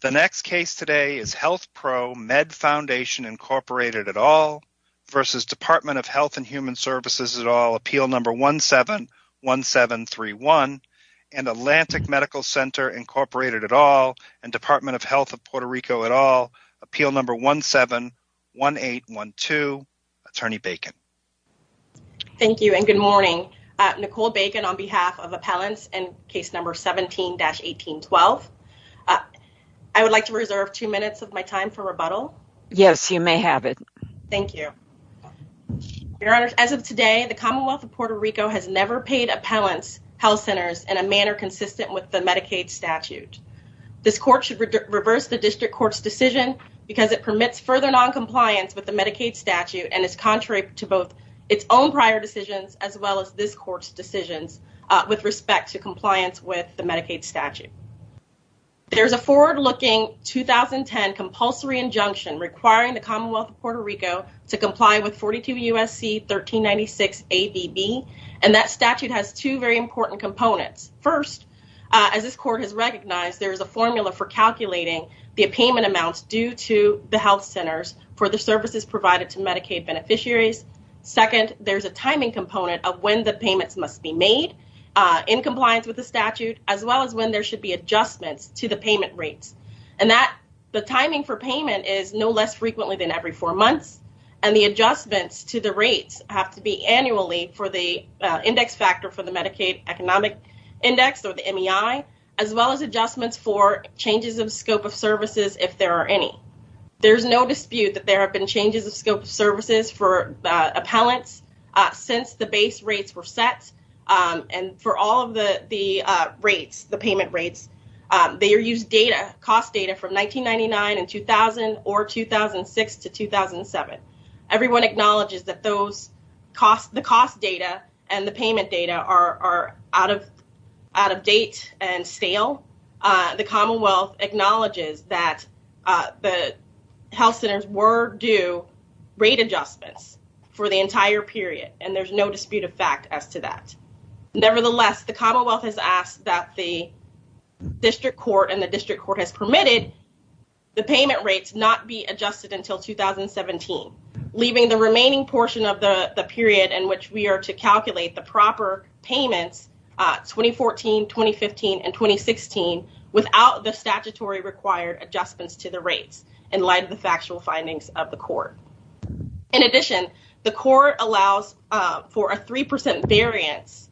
The next case today is HealthproMed Foundation, Inc. et al. v. Dept. of Health And Human Services et al. Appeal No. 171731, and Atlantic Medical Center, Inc. et al. and Dept. of Health of Puerto Rico et al. Appeal No. 171812, Attorney Bacon. Thank you, and good morning. Nicole Bacon on behalf of Appellants in Case No. 17-1812. I would like to reserve two minutes of my time for rebuttal. Yes, you may have it. Thank you. Your Honor, as of today, the Commonwealth of Puerto Rico has never paid appellants, health centers, in a manner consistent with the Medicaid statute. This court should reverse the district court's decision because it permits further noncompliance with the Medicaid statute, and it's contrary to both its own prior decisions as well as this court's decisions with respect to compliance with the Medicaid statute. There's a forward-looking 2010 compulsory injunction requiring the Commonwealth of Puerto Rico to comply with 42 U.S.C. 1396-ADB, and that statute has two very important components. First, as this court has recognized, there is a formula for calculating the payment amounts due to the health centers for the services provided to Medicaid beneficiaries. Second, there's a timing component with the statute as well as when there should be a time for the adjustment to the payment rate, and that the timing for payment is no less frequently than every four months, and the adjustments to the rate have to be annually for the index factor for the Medicaid Economic Index, or the MEI, as well as adjustments for changes in scope of services if there are any. There's no dispute that there have been changes in scope of services for appellants since the base rates were set, and for all of the rates, the payment rates, they are used data, cost data from 1999 and 2000 or 2006 to 2007. Everyone acknowledges that those cost, the cost data and the payment data are out of date and stale. The Commonwealth acknowledges that the health centers were due rate adjustments for the entire period, and there's no dispute of fact as to that. Nevertheless, the Commonwealth has asked that the district court and the district court has permitted the payment rates not to be adjusted until 2017, leaving the remaining portion of the period in which we are to calculate the proper payment 2014, 2015, and 2016 without the statutory required adjustments to the rates, in light of the factual findings of the court. In addition, the court allows for a 3% variance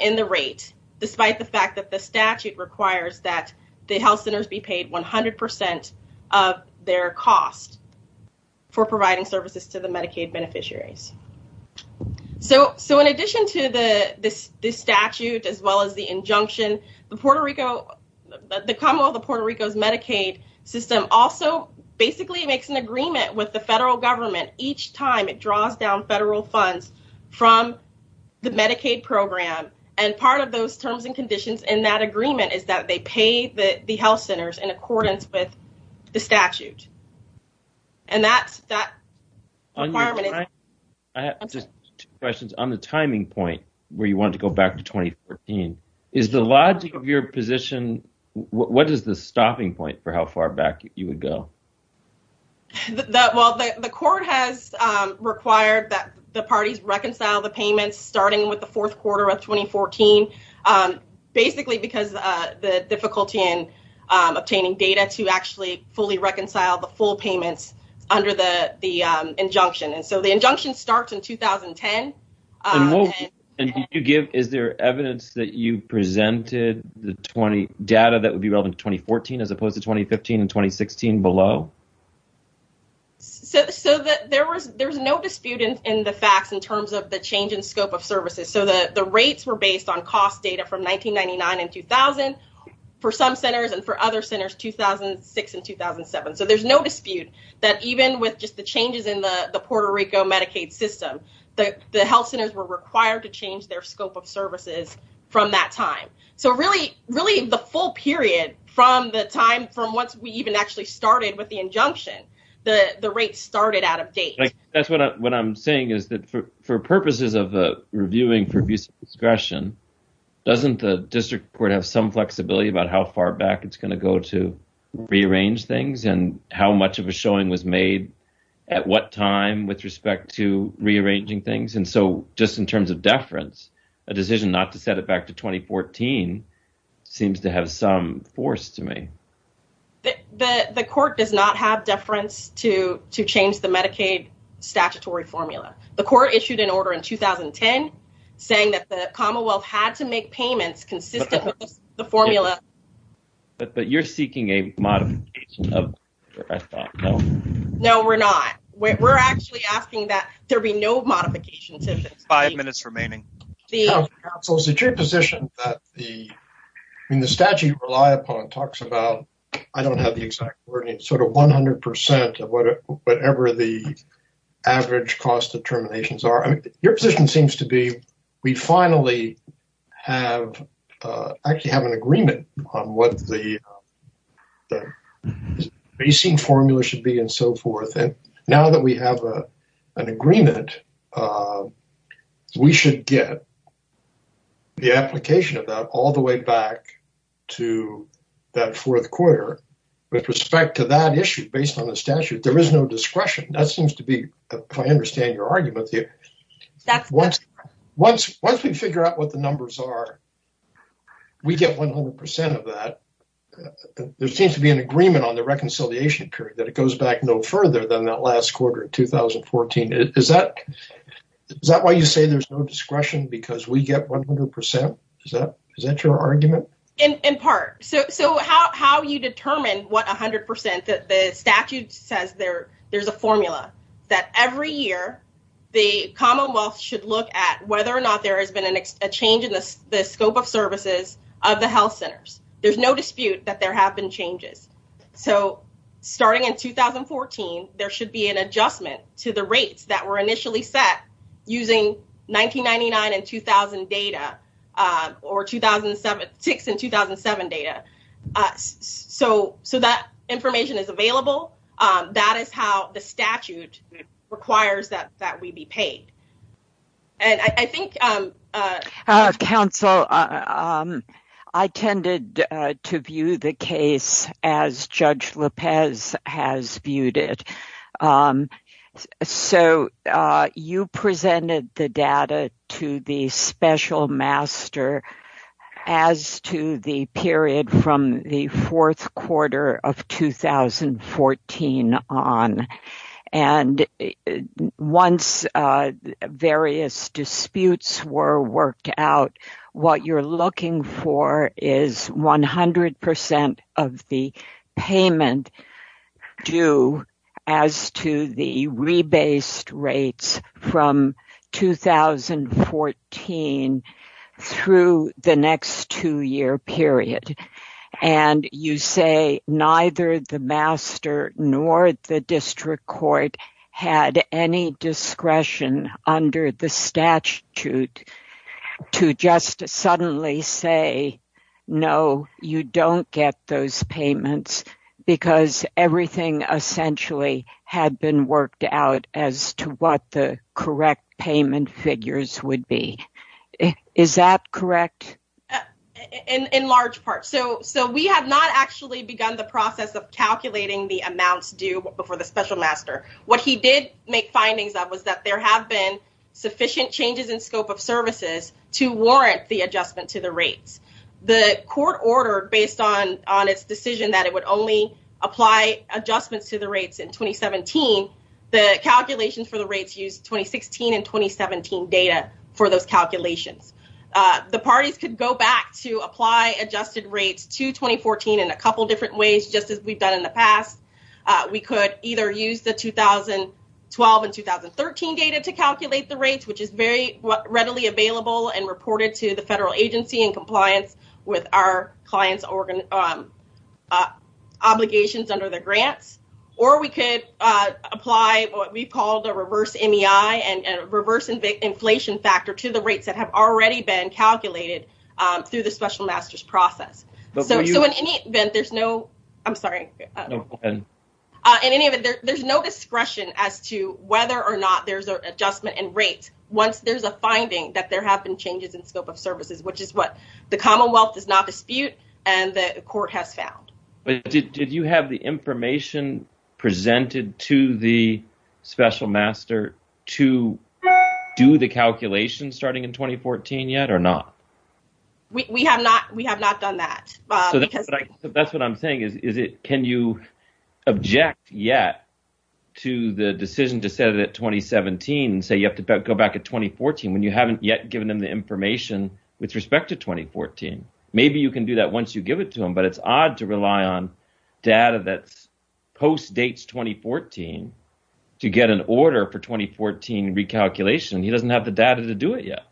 in the rate, despite the fact that the statute requires that the health centers be paid 100% of their costs for providing services to the Medicaid beneficiaries. So, in addition to the statute, as well as the injunction, the Puerto Rico, the Commonwealth of Puerto Rico's Medicaid system also basically makes an agreement with the federal government each time it draws down federal funds from the Medicaid program. And part of those terms and conditions in that agreement is that they pay the health centers in accordance with the statute. And that's that requirement. I have just two questions. On the timing point, where you want to go back to 2014, is the logic of your position, what is the stopping point for how far back you would go? Well, the court has required that the parties reconcile the payments, starting with the fourth quarter of 2014, basically because the difficulty in obtaining data to actually fully reconcile the full payments under the injunction. And so, the injunction starts in 2010. And did you give, is there evidence that you presented the data that would be relevant to 2014, as opposed to 2015 and 2016 below? So, there's no dispute in the facts in terms of the change in scope of services. So, the rates were based on cost data from 1999 and 2000 for some centers and for other centers 2006 and 2007. So, there's no dispute that even with just the changes in the Puerto Rico Medicaid system, the health centers were required to change their scope of services from that time. So, really, the full period from the time from once we even actually started with the injunction, the rates started out of date. That's what I'm saying is that for purposes of reviewing for abuse of discretion, doesn't the district court have some flexibility about how far back it's going to go to rearrange things and how much of a showing was made, at what time with respect to rearranging things? And so, just in terms of deference, a decision not to set it back to 2014 seems to have some force to me. The court does not have deference to change the Medicaid statutory formula. The court issued an order in 2010 saying that the commonwealth had to make payments consistent with the formula. But you're seeking a modification of that, no? No, we're not. We're actually asking that there be no modification. Five minutes remaining. Counsel, is it your position that the statute you rely upon talks about, I don't have the exact wording, sort of 100% of whatever the average cost determinations are? I mean, your position seems to be we finally have, actually have an agreement on what the basing formula should be and so forth. And now that we have an agreement, we should get the application of that all the way back to that fourth quarter with respect to that issue based on the statute. There is no discretion. That seems to be, I understand your argument there. Once we figure out what the numbers are, we get 100% of that. There seems to be an agreement on the reconciliation period that it goes back no further than that last quarter in 2014. Is that why you say there's no discretion because we get 100%? Is that your argument? In part. So how you determine what 100% that the statute says there's a formula that every year, the Commonwealth should look at whether or not there has been a change in the scope of services of the health centers. There's no dispute that there have been changes. So starting in 2014, there should be an adjustment to the rates that were initially set using 1999 and 2000 data or 2006 and 2007 data. So that information is available. That is how the statute requires that we be paid. And I think. Counsel, I tended to view the case as Judge Lopez has viewed it. So you presented the data to the special master as to the period from the fourth quarter of 2014 on. And once various disputes were worked out, what you're looking for is 100% of the payment due as to the rebased rates from 2014 through the next two year period. And you say neither the master nor the district court had any discretion under the statute to just suddenly say, no, you don't get those payments because everything essentially had been worked out as to what the correct payment figures would be. Is that correct? In large part. So we have not actually begun the process of calculating the amount due for the special master. What he did make findings of was that there have been sufficient changes in scope of services to warrant the adjustment to the rates. The court ordered based on its decision that it would only apply adjustments to the rates in 2017. The calculations for the rates used 2016 and 2017 data for those calculations. The parties could go back to apply adjusted rates to 2014 in a couple of different ways, just as we've done in the past. We could either use the 2012 and 2013 data to calculate the rates, which is very readily available and reported to the federal agency in compliance with our client's obligations under the grant. Or we could apply what we call the reverse MEI and reverse inflation factor to the rates that have already been calculated through the special master's process. So in any event, there's no expression as to whether or not there's an adjustment in rates once there's a finding that there have been changes in scope of services, which is what the Commonwealth does not dispute and the court has found. Did you have the information presented to the special master to do the calculations starting in 2014 yet or not? We have not done that. That's what I'm saying. Can you object yet to the decision to set it at 2017 and say you have to go back to 2014 when you haven't yet given them the information with respect to 2014? Maybe you can do that once you give it to them, but it's odd to rely on data that post-dates 2014 to get an order for 2014 recalculation. He doesn't have the data to do it yet.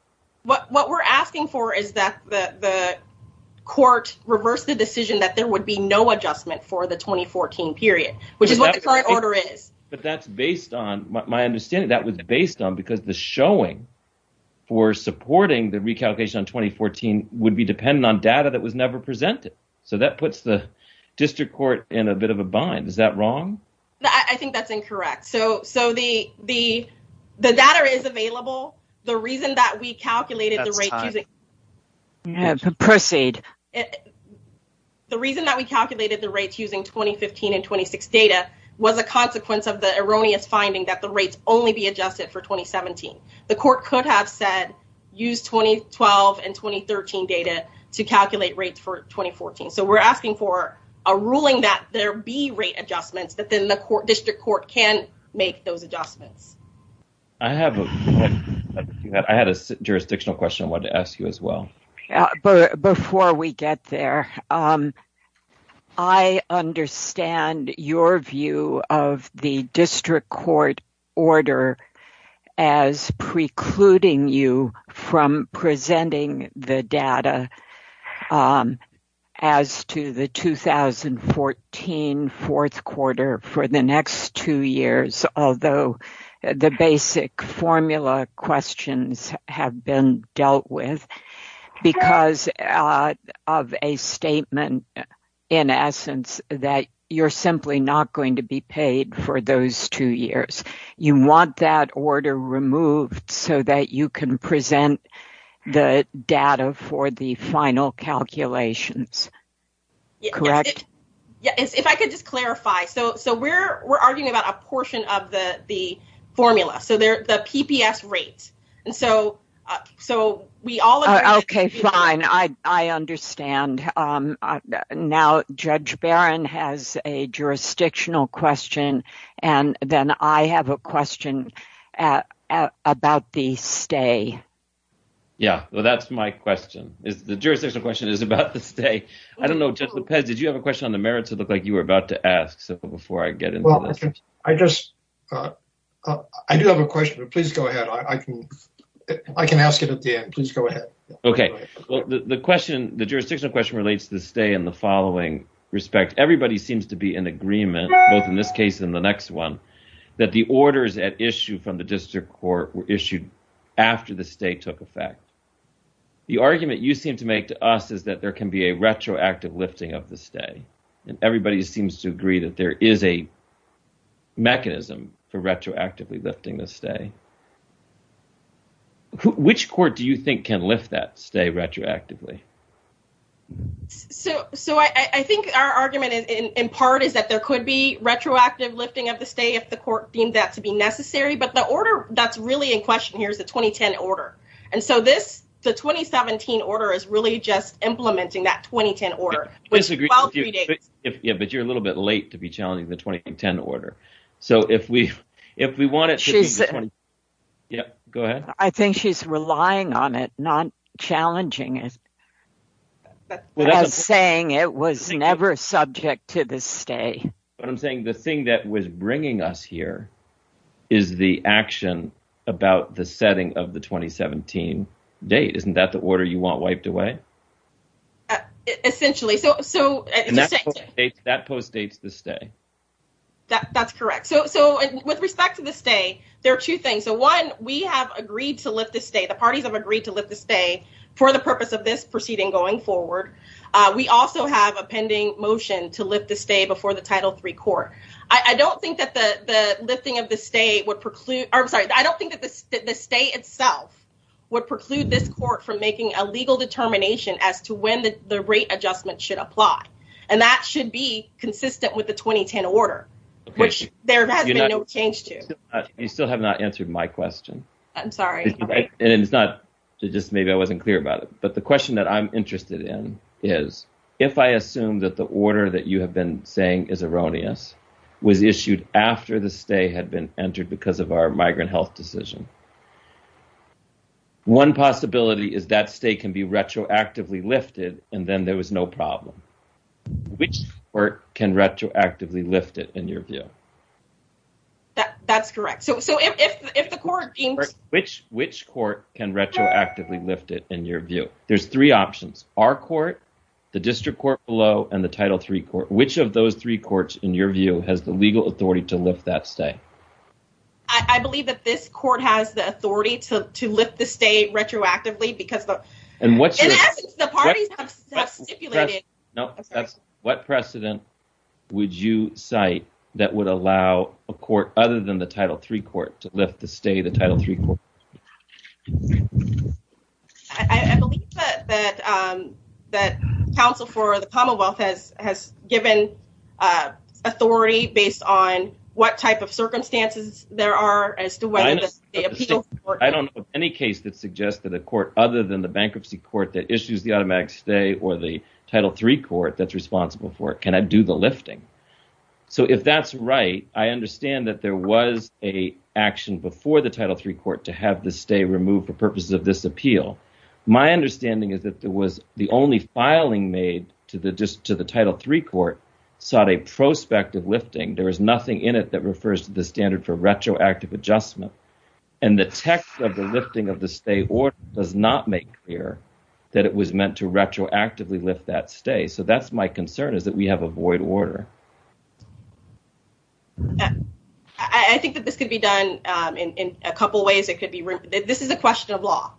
What we're asking for is that the court reverse the decision that there would be no adjustment for the 2014 period, which is what the current order is. But that's based on my understanding. That was based on because the showing for supporting the recalculation on 2014 would be dependent on data that was never presented. So that puts the district court in a bit of a bind. Is that wrong? I think that's incorrect. So the data is available. The reason that we calculated the rates using 2015 and 2016 data was a consequence of the erroneous finding that the rates only be adjusted for 2017. The court could have said use 2012 and 2013 data to calculate rates for 2014. So we're asking for a ruling that there be rate adjustments, but then the district court can make those adjustments. I have a point. I had a jurisdictional question I wanted to ask you as well. Before we get there, I understand your view of the district court order as precluding you from presenting the data as to the 2014 fourth quarter for the next two years, although the basic formula questions have been dealt with because of a statement, in essence, that you're simply not going to be paid for those two years. You want that order removed so that you can present the data for the final calculations, correct? If I could just clarify. So we're arguing about a portion of the formula, so the PPS rates. OK, fine. I understand. Now, Judge Barron has a jurisdictional question, and then I have a question about the stay. Yeah, well, that's my question. The jurisdictional question is about the stay. I don't know, Judge Lopez, did you have a question on the merits? It looked like you were about to ask. So before I get into this. Well, I just, I do have a question. Please go ahead. I can ask it at the end. Please go ahead. OK, well, the question, the jurisdictional question relates to the stay in the following respect. Everybody seems to be in agreement, both in this case and the next one, that the orders at issue from the district court were issued after the stay took effect. The argument you seem to make to us is that there can be a retroactive listing of the stay, and everybody seems to agree that there is a mechanism for retroactively listing the stay. Which court do you think can lift that stay retroactively? So I think our argument, in part, is that there could be retroactive lifting of the stay if the court deemed that to be necessary. But the order that's really in question here is a 2010 order. And so this, the 2017 order, is really just implementing that 2010 order. Yeah, but you're a little bit late to be challenging the 2010 order. So if we want it to be the 2010 order, yeah, go ahead. I think she's relying on it, not challenging it. I'm saying it was never subject to the stay. But I'm saying the thing that was bringing us here is the action about the setting of the 2017 date. Isn't that the order you want wiped away? Essentially. And that postdates the stay. That's correct. So with respect to the stay, there are two things. So one, we have agreed to lift the stay, the parties have agreed to lift the stay, for the purpose of this proceeding going forward. We also have a pending motion to lift the stay before the Title III court. I don't think that the listing of the stay would preclude, or I'm sorry, I don't think that the stay itself would preclude this court from making a legal determination as to when the rate adjustment should apply. And that should be consistent with the 2010 order, which there has been no change to. You still have not answered my question. I'm sorry. And it's not, just maybe I wasn't clear about it. But the question that I'm interested in is, if I assume that the order that you have been saying is erroneous, was issued after the stay had been entered because of our migrant health decision, one possibility is that stay can be retroactively lifted, and then there was no problem. Which court can retroactively lift it in your view? That's correct. So if the court being- Which court can retroactively lift it in your view? There's three options, our court, the district court below, and the Title III court. Which of those three courts in your view has the legal authority to lift that stay? I believe that this court has the legal authority and has the authority to lift the stay retroactively because of- And what's your- In essence, the parties have stipulated- No, that's, what precedent would you cite that would allow a court other than the Title III court to lift the stay of the Title III court? I believe that counsel for the Commonwealth has given authority based on what type of circumstances there are as to whether the appeal- I don't know of any case that suggested a court other than the bankruptcy court that issues the automatic stay or the Title III court that's responsible for it. Can I do the lifting? So if that's right, I understand that there was a action before the Title III court to have the stay removed for purposes of this appeal. My understanding is that there was the only filing made to the Title III court sought a prospective lifting. There was nothing in it that refers to the standard for retroactive adjustment. And the text of the lifting of the stay order does not make clear that it was meant to retroactively lift that stay. So that's my concern is that we have a void order. I think that this could be done in a couple of ways. It could be- This is a question of law.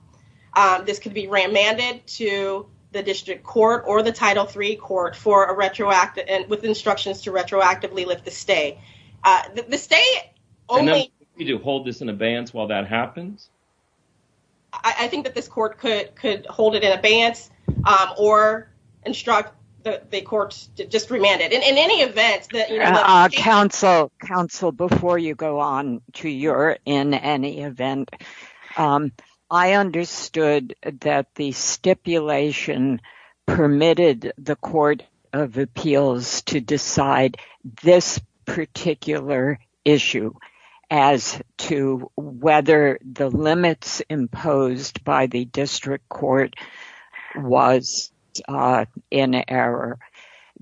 This could be remanded to the district court or the Title III court for a retroactive- with instructions to retroactively lift the stay. The stay only- Do you need to hold this in advance while that happens? I think that this court could hold it in advance or instruct the courts to just remand it. In any event- Counsel, before you go on to your in any event, I understood that the stipulation permitted the Court of Appeals to decide this particular issue as to whether the limits imposed by the district court was in error.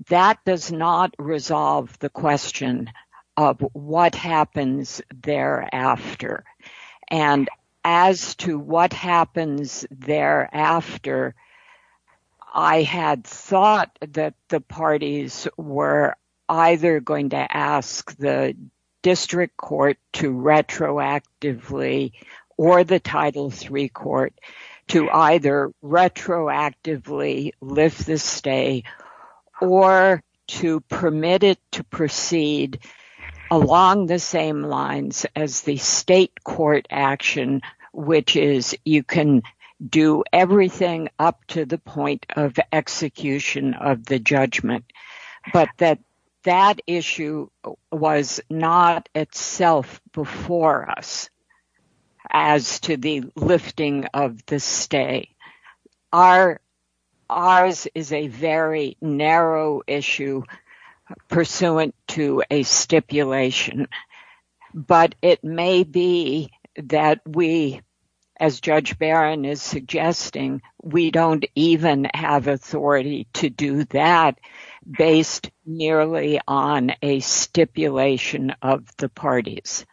That does not resolve the question of what happens thereafter. And as to what happens thereafter, I had thought that the parties were either going to ask the district court to retroactively or the Title III court to either retroactively lift the stay or to permit it to proceed along the same lines as the state court action, which is you can do everything up to the point of execution of the judgment. But that issue was not itself before us as to the lifting of the stay. Ours is a very narrow issue pursuant to a stipulation. But it may be that we, as Judge Barron is suggesting, we don't even have authority to do that based nearly on a stipulation of the parties.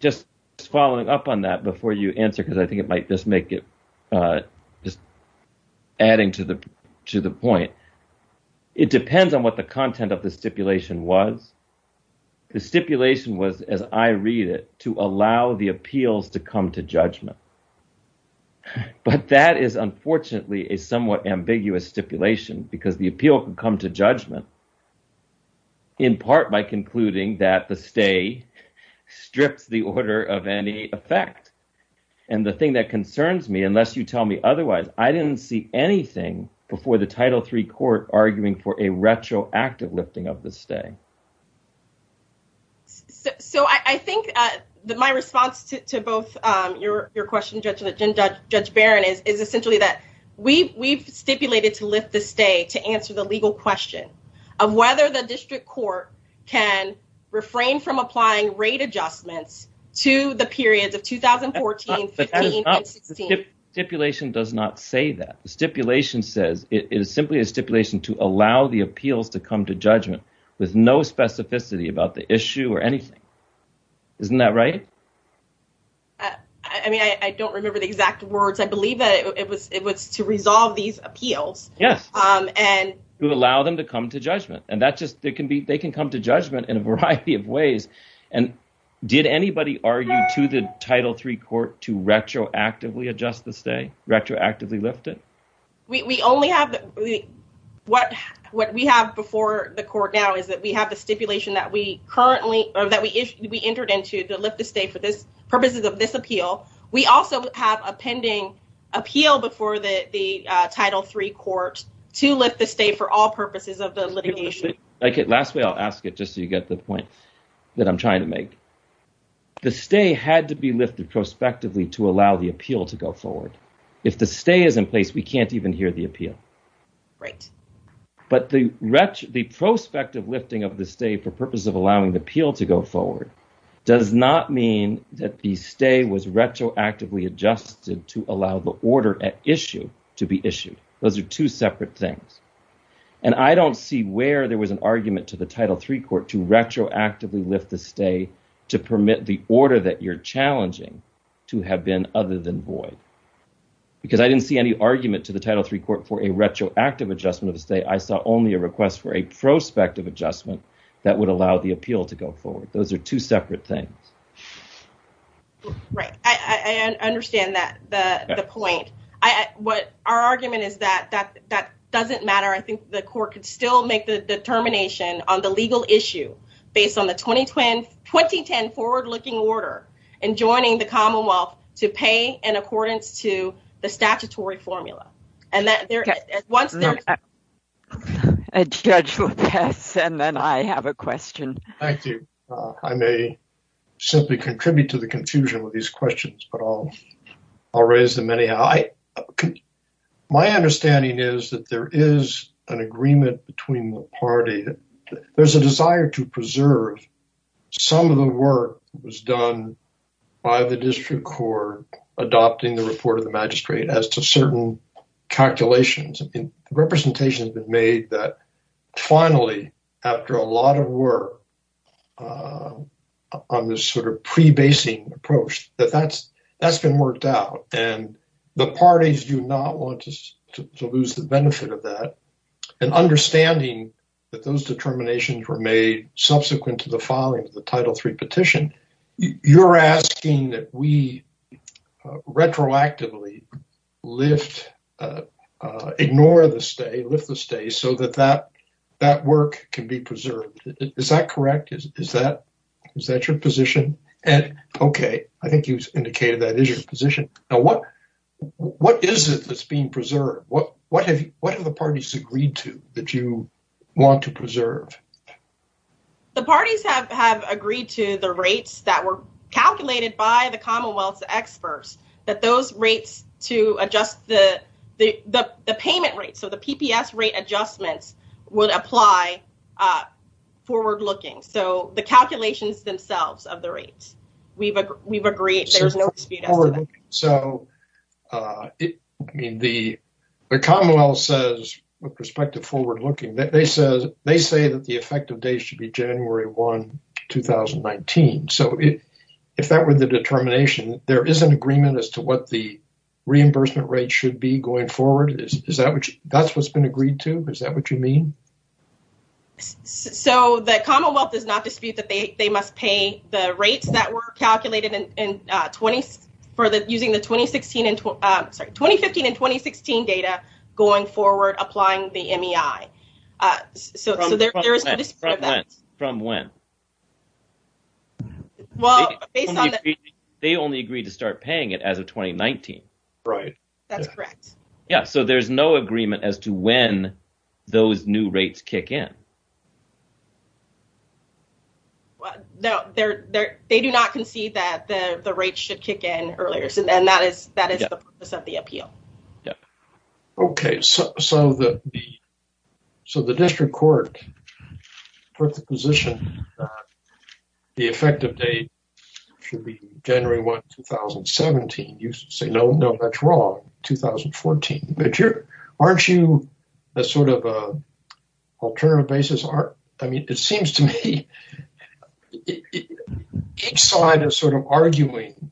Just following up on that before you answer, because I think it might just make it just adding to the point. It depends on what the content of the stipulation was. The stipulation was, as I read it, to allow the appeals to come to judgment. But that is unfortunately a somewhat ambiguous stipulation because the appeal can come to judgment in part by concluding that the stay strips the order of any effect. And the thing that concerns me, unless you tell me otherwise, I didn't see anything before the Title III court arguing for a retroactive lifting of the stay. So I think that my response to both your questions, Judge Barron, is essentially that we've stipulated to lift the stay to answer the legal question of whether the district court can refrain from applying rate adjustments to the periods of 2014, 15, and 16. Stipulation does not say that. The stipulation says, it is simply a stipulation to allow the appeals to come to judgment. There's no specificity about the issue or anything. Isn't that right? I mean, I don't remember the exact words. I believe that it was to resolve these appeals. Yes. And- To allow them to come to judgment. And that's just, they can come to judgment in a variety of ways. And did anybody argue to the Title III court to retroactively adjust the stay, retroactively lift it? We only have, what we have before the court now is that we have the stipulation that we currently, or that we entered into to lift the stay for the purposes of this appeal. We also have a pending appeal before the Title III court to lift the stay for all purposes of the litigation. Okay, lastly, I'll ask it just so you get the point that I'm trying to make. The stay had to be lifted prospectively to allow the appeal to go forward. If the stay is in place, we can't even hear the appeal. Right. But the prospective lifting of the stay for purposes of allowing the appeal to go forward does not mean that the stay was retroactively adjusted to allow the order at issue to be issued. Those are two separate things. And I don't see where there was an argument to the Title III court to retroactively lift the stay to permit the order that you're challenging to have been other than void. Because I didn't see any argument to the Title III court for a retroactive adjustment of the stay. I saw only a request for a prospective adjustment that would allow the appeal to go forward. Those are two separate things. Right, I understand the point. What our argument is that that doesn't matter. I think the court could still make the determination on the legal issue based on the 2010 forward-looking order and joining the Commonwealth to pay in accordance to the statutory formula. And that there, once there- A judge would pass and then I have a question. Thank you. I may simply contribute to the confusion with these questions, but I'll raise them anyhow. My understanding is that there is an agreement between the party. There's a desire to preserve some of the work that was done by the district court adopting the report of the magistrate as to certain calculations. Representation has been made that finally, after a lot of work on this sort of pre-basing approach, that that's been worked out. And the parties do not want to lose the benefit of that. And understanding that those determinations were made subsequent to the filing of the Title III petition, you're asking that we retroactively lift, ignore the stay, lift the stay, so that that work can be preserved. Is that correct? Is that your position? And okay, I think you've indicated that is your position. Now, what is it that's being preserved? What have the parties agreed to that you want to preserve? The parties have agreed to the rates that were calculated by the Commonwealth's experts, that those rates to adjust the payment rate, so the PPS rate adjustment, would apply forward-looking. So the calculations themselves of the rates. We've agreed there's no dispute. So, I mean, the Commonwealth says, with perspective forward-looking, they say that the effective date should be January 1, 2019. So if that were the determination, there is an agreement as to what the reimbursement rate should be going forward. That's what's been agreed to? Is that what you mean? So the Commonwealth does not dispute that they must pay the rates that were calculated in using the 2015 and 2016 data going forward, or applying the NEI. From when? Well, based on the- They only agreed to start paying it as of 2019. Right. That's correct. Yeah, so there's no agreement as to when those new rates kick in. No, they do not concede that the rates should kick in earlier so then that is the purpose of the appeal. Yeah. Okay, so the district court put the position the effective date should be January 1, 2017. You say, no, no, that's wrong, 2014. Aren't you a sort of alternative basis? I mean, it seems to me each side is sort of arguing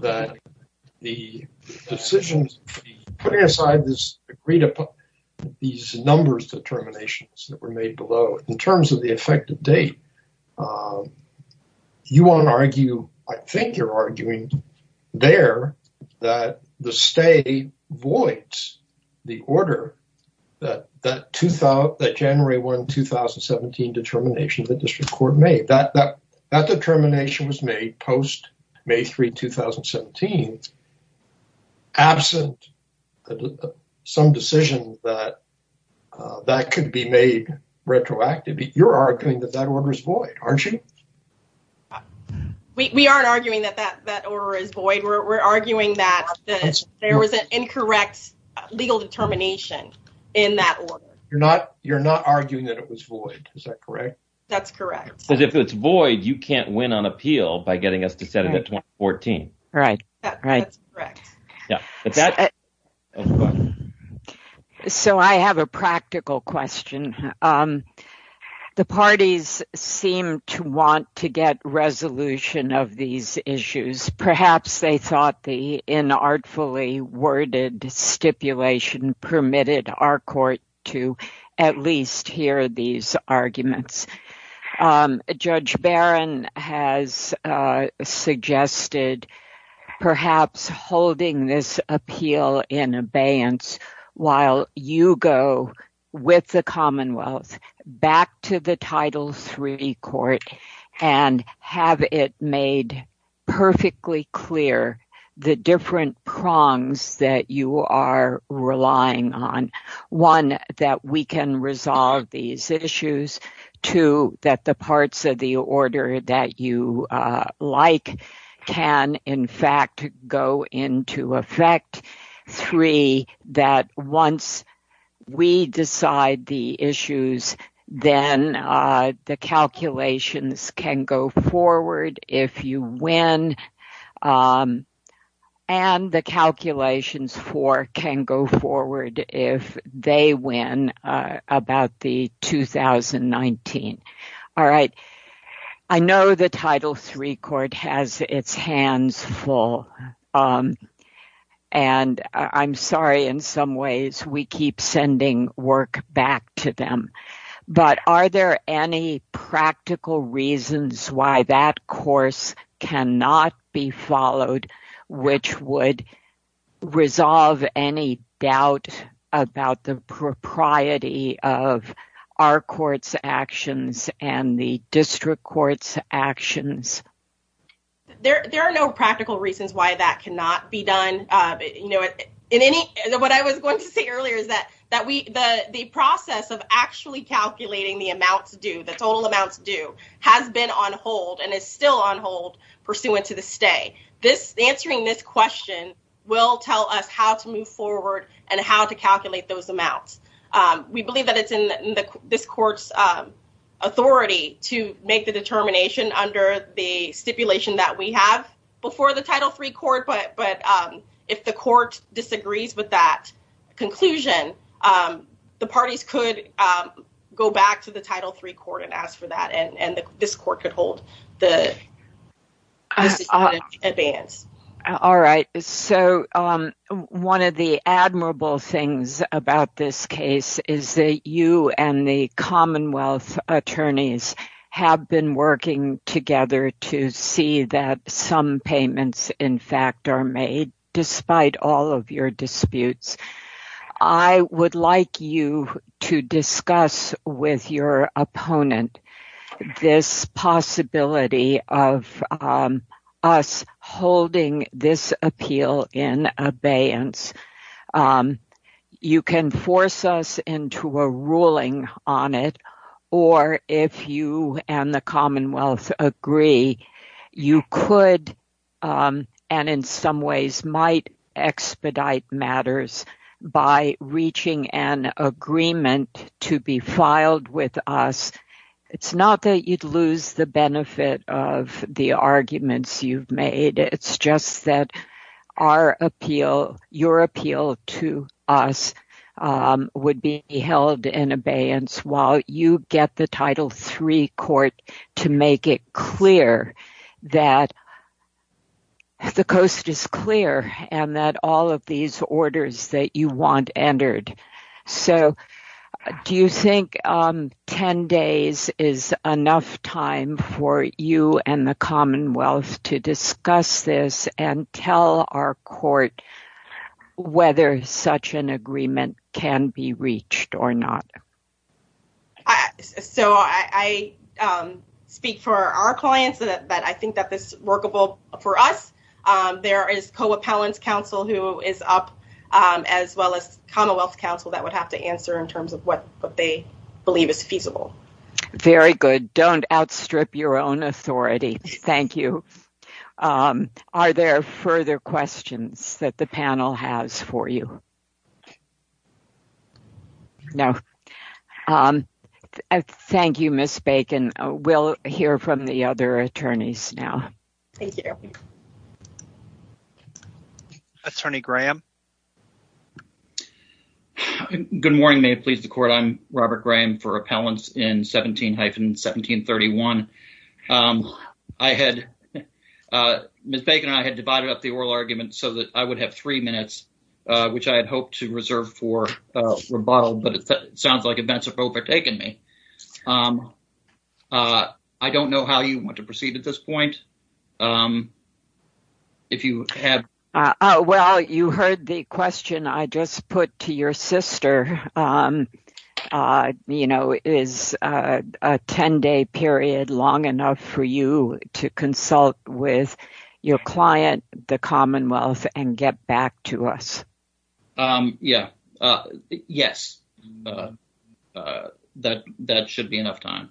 that the decisions, putting aside this agreed upon, these numbers of determinations that were made below, in terms of the effective date, you want to argue, I think you're arguing there that the stay voids the order that January 1, 2017 determination that the district court made. That determination was made post May 3, 2017 absent some decision that that could be made retroactively. You're arguing that that order is void, aren't you? We aren't arguing that that order is void. We're arguing that there was an incorrect legal determination in that order. You're not arguing that it was void, is that correct? That's correct. Because if it's void, you can't win on appeal by getting us to set it at 2014. Right, right. So I have a practical question. The parties seem to want to get resolution of these issues. Perhaps they thought the inartfully worded stipulation permitted our court to at least hear these arguments. Judge Barron has suggested perhaps holding this appeal in abeyance while you go with the Commonwealth back to the Title III court and have it made perfectly clear the different prongs that you are relying on. One, that we can resolve these issues. Two, that the parts of the order that you like can in fact go into effect. Three, that once we decide the issues, then the calculations can go forward if you win and the calculations for can go forward if they win about the 2019. All right, I know the Title III court has its hands full and I'm sorry, in some ways, we keep sending work back to them. But are there any practical reasons why that course cannot be followed which would resolve any doubt about the propriety of our court's actions and the district court's actions? There are no practical reasons why that cannot be done. What I was going to say earlier is that the process of actually calculating the amounts due, the total amounts due, has been on hold and it's still on hold pursuant to the stay. Answering this question will tell us how to move forward and how to calculate those amounts. We believe that it's in this court's authority to make the determination under the stipulation that we have before the Title III court, but if the court disagrees with that conclusion, the parties could go back to the Title III court and ask for that and this court could hold the decision. All right, so one of the admirable things about this case is that you and the Commonwealth attorneys have been working together to see that some payments, in fact, are made despite all of your disputes. I would like you to discuss with your opponent this possibility of us holding this appeal in abeyance. You can force us into a ruling on it or if you and the Commonwealth agree, you could and in some ways might expedite matters by reaching an agreement to be filed with us it's not that you'd lose the benefit of the arguments you've made, it's just that our appeal, your appeal to us would be held in abeyance while you get the Title III court to make it clear that the coast is clear and that all of these orders that you want entered. So do you think 10 days is enough time for you and the Commonwealth to discuss this and tell our court whether such an agreement can be reached or not? So I speak for our clients that I think that this workable for us. There is Co-Appellants Council who is up as well as Commonwealth Council that would have to answer in terms of what they believe is feasible. Very good. Don't outstrip your own authority. Thank you. Are there further questions that the panel has for you? No. Thank you, Ms. Bacon. We'll hear from the other attorneys now. Thank you. Thank you. Attorney Graham. Good morning, may it please the court. I'm Robert Graham for Appellants in 17-1731. I had, Ms. Bacon and I had divided up the oral arguments so that I would have three minutes, which I had hoped to reserve for rebuttal, but it sounds like it's been taken me. I don't know how you want to proceed at this point. If you have... Well, you heard the question I just put to your sister, is a 10 day period long enough for you to consult with your client, the Commonwealth and get back to us? Yeah, yes. That should be enough time.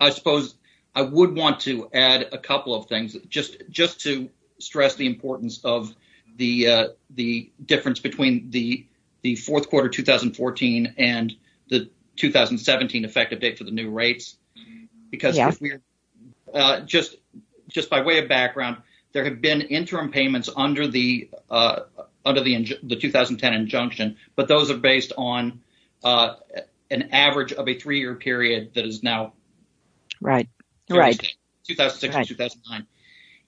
I suppose I would want to add a couple of things, just to stress the importance of the difference between the fourth quarter 2014 and the 2017 effective date for the new rates, because just by way of background, there have been interim payments under the 2010 injunction, but those are based on an average of a 12 year period. So that's a three-year period that is now... Right, right. 2006 to 2009.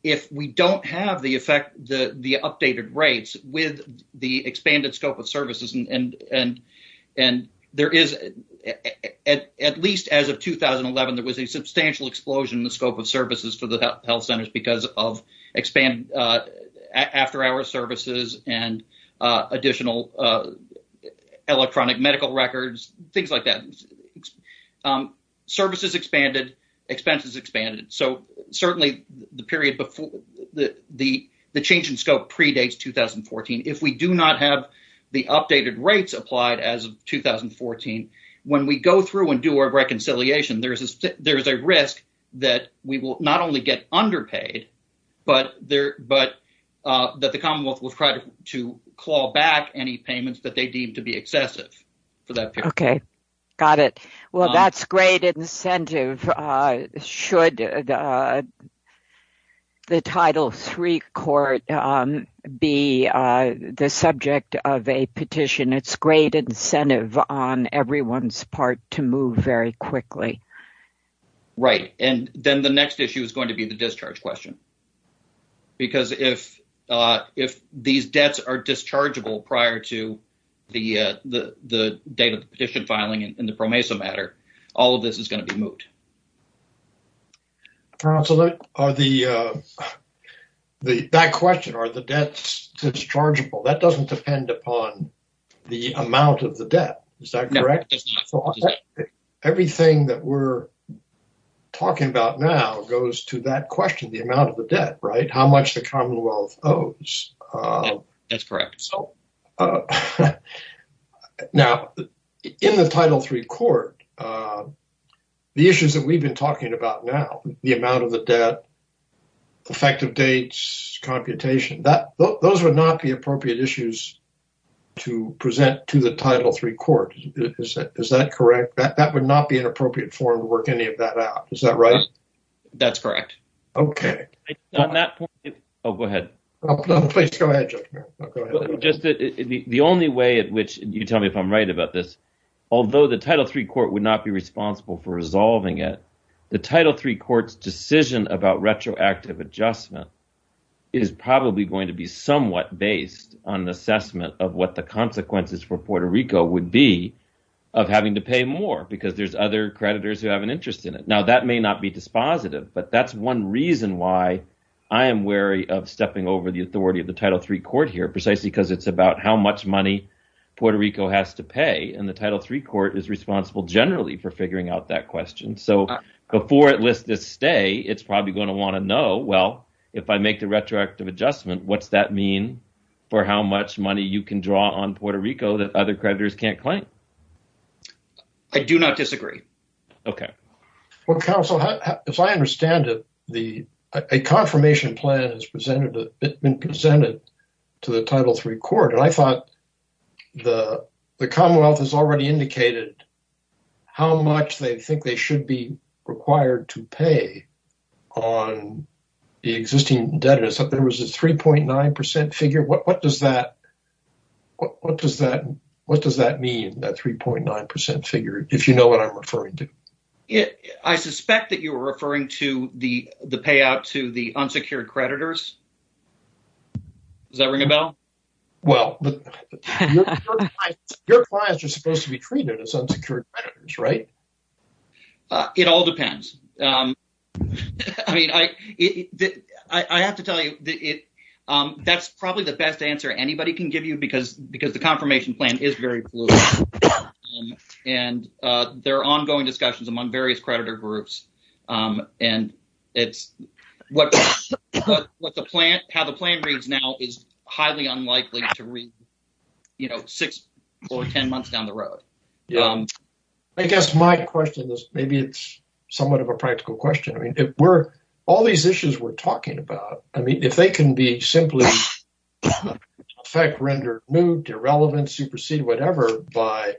If we don't have the effect, the updated rates with the expanded scope of services, and there is, at least as of 2011, there was a substantial explosion in the scope of services for the health centers because of expand after hours services and additional electronic medical records, things like that. Services expanded, expenses expanded. So certainly the period, the change in scope predates 2014. If we do not have the updated rates applied as of 2014, when we go through and do our reconciliation, there's a risk that we will not only get underpaid, but that the Commonwealth will try to claw back any payments that they deem to be excessive for that period. Okay, got it. Well, that's great incentive. Should the Title III Court be the subject of a petition? It's great incentive on everyone's part to move very quickly. Right, and then the next issue is going to be the discharge question. Because if these debts are dischargeable prior to the date of the petition filing in the PROMESA matter, all of this is going to be moved. So that question, are the debts dischargeable, that doesn't depend upon the amount of the debt, is that correct? Everything that we're talking about now goes to that question, the amount of the debt, right? How much the Commonwealth owes. That's correct. Now, in the Title III Court, the issues that we've been talking about now, the amount of the debt, effective dates, computation, those would not be appropriate issues to present to the Title III Court, is that correct? That would not be an appropriate form to work any of that out, is that right? That's correct. Okay. Oh, go ahead. Please go ahead, Judge Merrill. The only way in which, you tell me if I'm right about this, although the Title III Court would not be responsible for resolving it, the Title III Court's decision about retroactive adjustment is probably going to be somewhat based on an assessment of what the consequences for Puerto Rico would be of having to pay more, because there's other creditors who have an interest in it. Now, that may not be dispositive, but that's one reason why I am wary of stepping over the authority of the Title III Court here, precisely because it's about how much money Puerto Rico has to pay, and the Title III Court is responsible, generally, for figuring out that question. So, before it lists its stay, it's probably gonna wanna know, well, if I make the retroactive adjustment, what's that mean for how much money you can draw on Puerto Rico that other creditors can't claim? I do not disagree. Okay. Well, counsel, as I understand it, a confirmation plan has been presented to the Title III Court, and I thought the Commonwealth has already indicated how much they think they should be required to pay on the existing debtors. There was a 3.9% figure. What does that mean, that 3.9% figure, if you know what I'm referring to? I suspect that you were referring to the payout to the unsecured creditors. Does that ring a bell? Well, your clients are supposed to be treated as unsecured creditors, right? It all depends. I have to tell you, that's probably the best answer anybody can give you because the confirmation plan is very fluid, and there are ongoing discussions among various creditor groups, and how the plan reads now is highly unlikely to read six, four, 10 months down the road. I guess my question is, maybe it's somewhat of a practical question. I mean, all these issues we're talking about, I mean, if they can be simply effect-rendered moot, irrelevant, superseded, whatever, by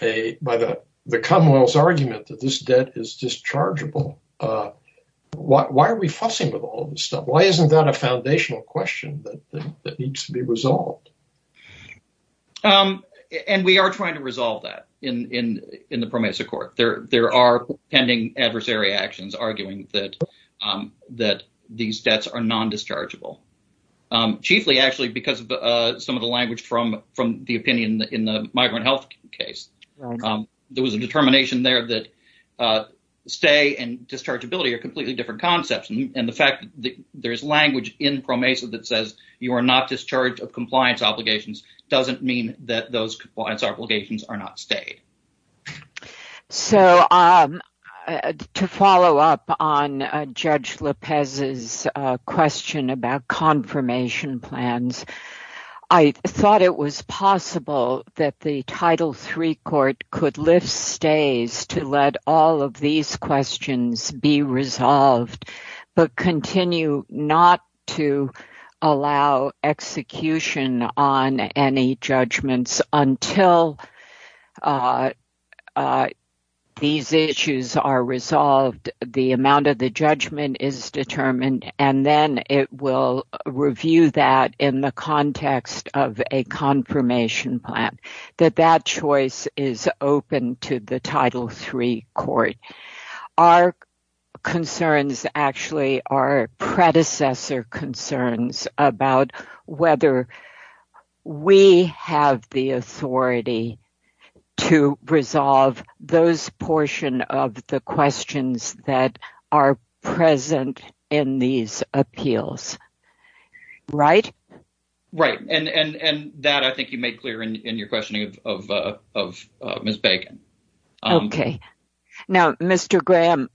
the Commonwealth's argument that this debt is dischargeable, why are we fussing with all this stuff? Why isn't that a foundational question that needs to be resolved? And we are trying to resolve that in the PROMESA Court. There are pending adversary actions arguing that these debts are non-dischargeable. Chiefly, actually, because some of the language from the opinion in the migrant health case, there was a determination there that stay and dischargeability are completely different concepts, and the fact that there's language in PROMESA that says you are not discharged of compliance obligations doesn't mean that those compliance obligations are not stayed. To follow up on Judge Lopez's question about confirmation plans, I thought it was possible that the Title III Court could lift stays to let all of these questions be resolved, but continue not to allow execution on any judgments until these issues are resolved, the amount of the judgment is determined, and then it will review that in the context of a confirmation plan, that that choice is open to the Title III Court. Our concerns, actually, are predecessor concerns about whether we have the authority to resolve those portion of the questions that are present in these appeals, right? Right, and that I think you made clear in your questioning of Ms. Bacon. Okay, now, Mr. Graham,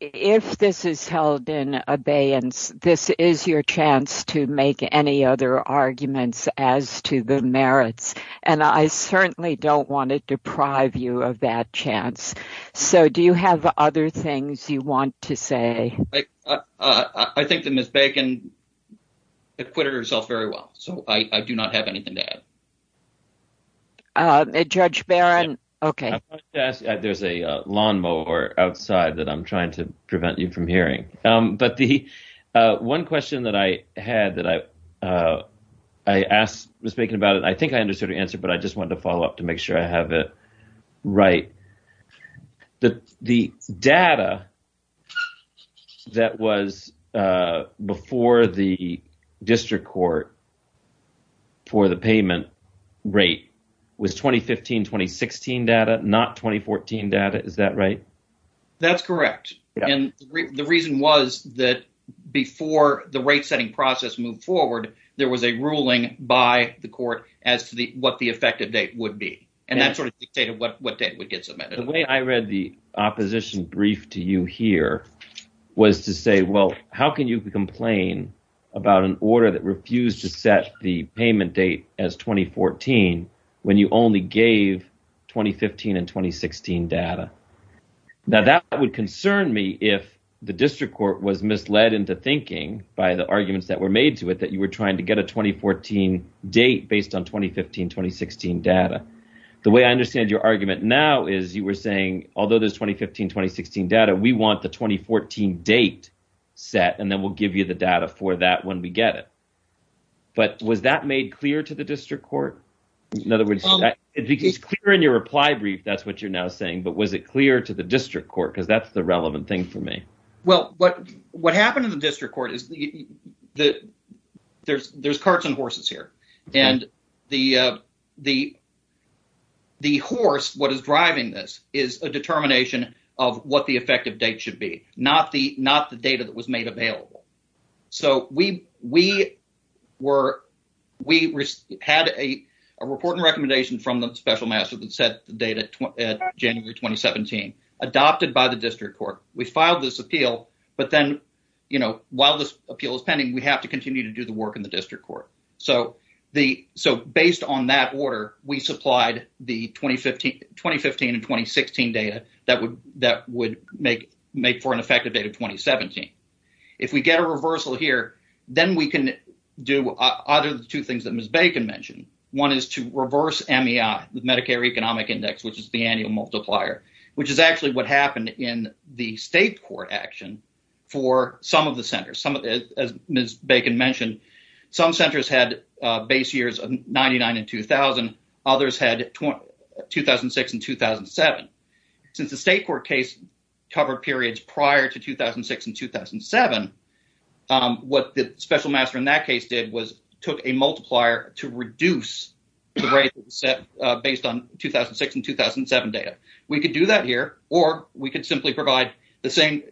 if this is held in abeyance, this is your chance to make any other arguments as to the merits, and I certainly don't want to deprive you of that chance, so do you have other things you want to say? I think that Ms. Bacon has quitted herself very well, so I do not have anything to add. Judge Barron, okay. I'd like to ask, there's a lawnmower outside that I'm trying to prevent you from hearing, but the one question that I had that I asked Ms. Bacon about, I think I understood her answer, but I just wanted to follow up to make sure I have it right. The data that was before the district court for the payment rate was 2015-2016 data, not 2014 data, is that right? That's correct, and the reason was that before the rate-setting process moved forward, there was a ruling by the court as to what the effective date would be, and that sort of dictated what date would get submitted. The way I read the opposition brief to you here was to say, well, how can you complain about an order that refused to set the payment date as 2014 when you only gave 2015 and 2016 data? Now, that would concern me if the district court was misled into thinking, by the arguments that were made to it, that you were trying to get a 2014 date based on 2015-2016 data. The way I understand your argument now is you were saying, although there's 2015-2016 data, we want the 2014 date set, and then we'll give you the data for that when we get it. But was that made clear to the district court? In other words, it's clear in your reply brief, that's what you're now saying, but was it clear to the district court? Because that's the relevant thing for me. Well, what happened in the district court is there's carts and horses here, and the horse, what is driving this, is a determination of what the effective date should be, not the data that was made available. So we had a report and recommendation from the special master that set the date at January 2017, adopted by the district court. We filed this appeal, but then, while this appeal is pending, we have to continue to do the work in the district court. So based on that order, we supplied the 2015-2016 data that would make for an effective date of 2017. If we get a reversal here, then we can do either of the two things that Ms. Bacon mentioned. One is to reverse MEI, the Medicare Economic Index, which is the annual multiplier, which is actually what happened in the state court action for some of the centers. Some of this, as Ms. Bacon mentioned, some centers had base years of 99 and 2000, others had 2006 and 2007. Since the state court case covered periods prior to 2006 and 2007, what the special master in that case did was took a multiplier to reduce the rate based on 2006 and 2007 data. We could do that here, or we could simply provide the same.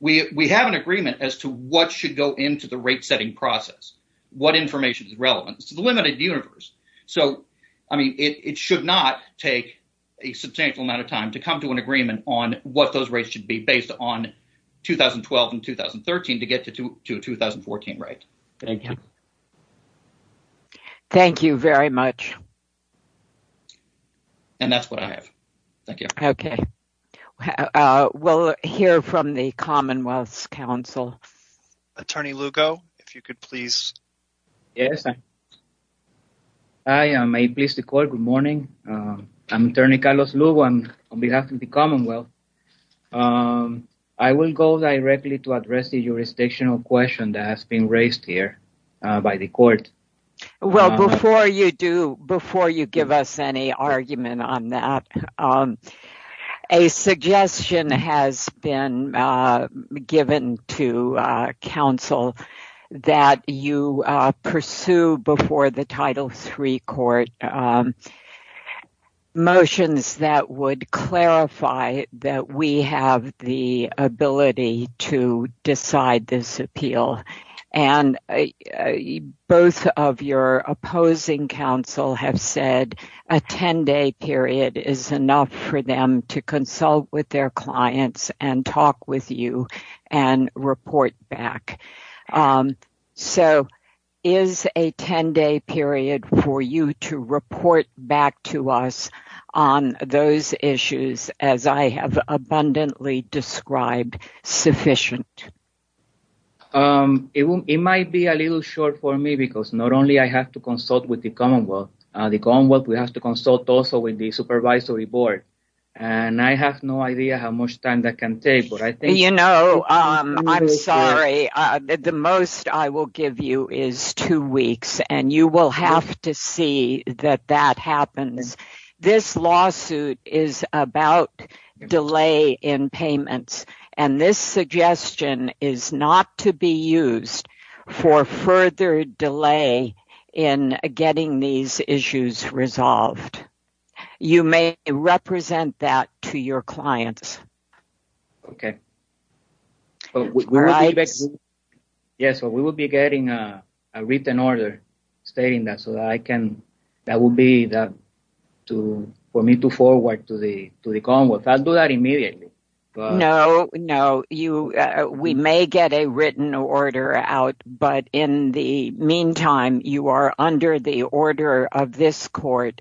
We have an agreement as to what should go into the rate setting process, what information is relevant. It's a limited universe. So, I mean, it should not take a substantial amount of time to come to an agreement on what those rates should be based on 2012 and 2013 to get to a 2014 rate. Thank you. Thank you very much. And that's what I have. Thank you. Okay. We'll hear from the Commonwealth Council. Attorney Lugo, if you could please. Yes, ma'am. Hi, I'm APS, the court. Good morning. I'm Attorney Carlos Lugo on behalf of the Commonwealth. I will go directly to address the jurisdictional question that has been raised here by the court. Well, before you do, before you give us any argument on that, a suggestion has been given to counsel that you pursue before the Title III Court motions that would clarify that we have the ability to decide this appeal. And both of your opposing counsel have said a 10-day period is enough for them to consult with their clients and talk with you and report back. So, is a 10-day period for you to report back to us on those issues as I have abundantly described sufficient? It might be a little short for me because not only I have to consult with the Commonwealth, we have to consult also with the Supervisory Board. And I have no idea how much time that can take, but I think- You know, I'm sorry. The most I will give you is two weeks and you will have to see that that happens. This lawsuit is about delay in payments. And this suggestion is not to be used for further delay in getting these issues resolved. You may represent that to your clients. Okay. Yeah, so we will be getting a written order stating that so that I can, that will be for me to forward to the Commonwealth. I'll do that immediately. No, no, we may get a written order out, but in the meantime, you are under the order of this court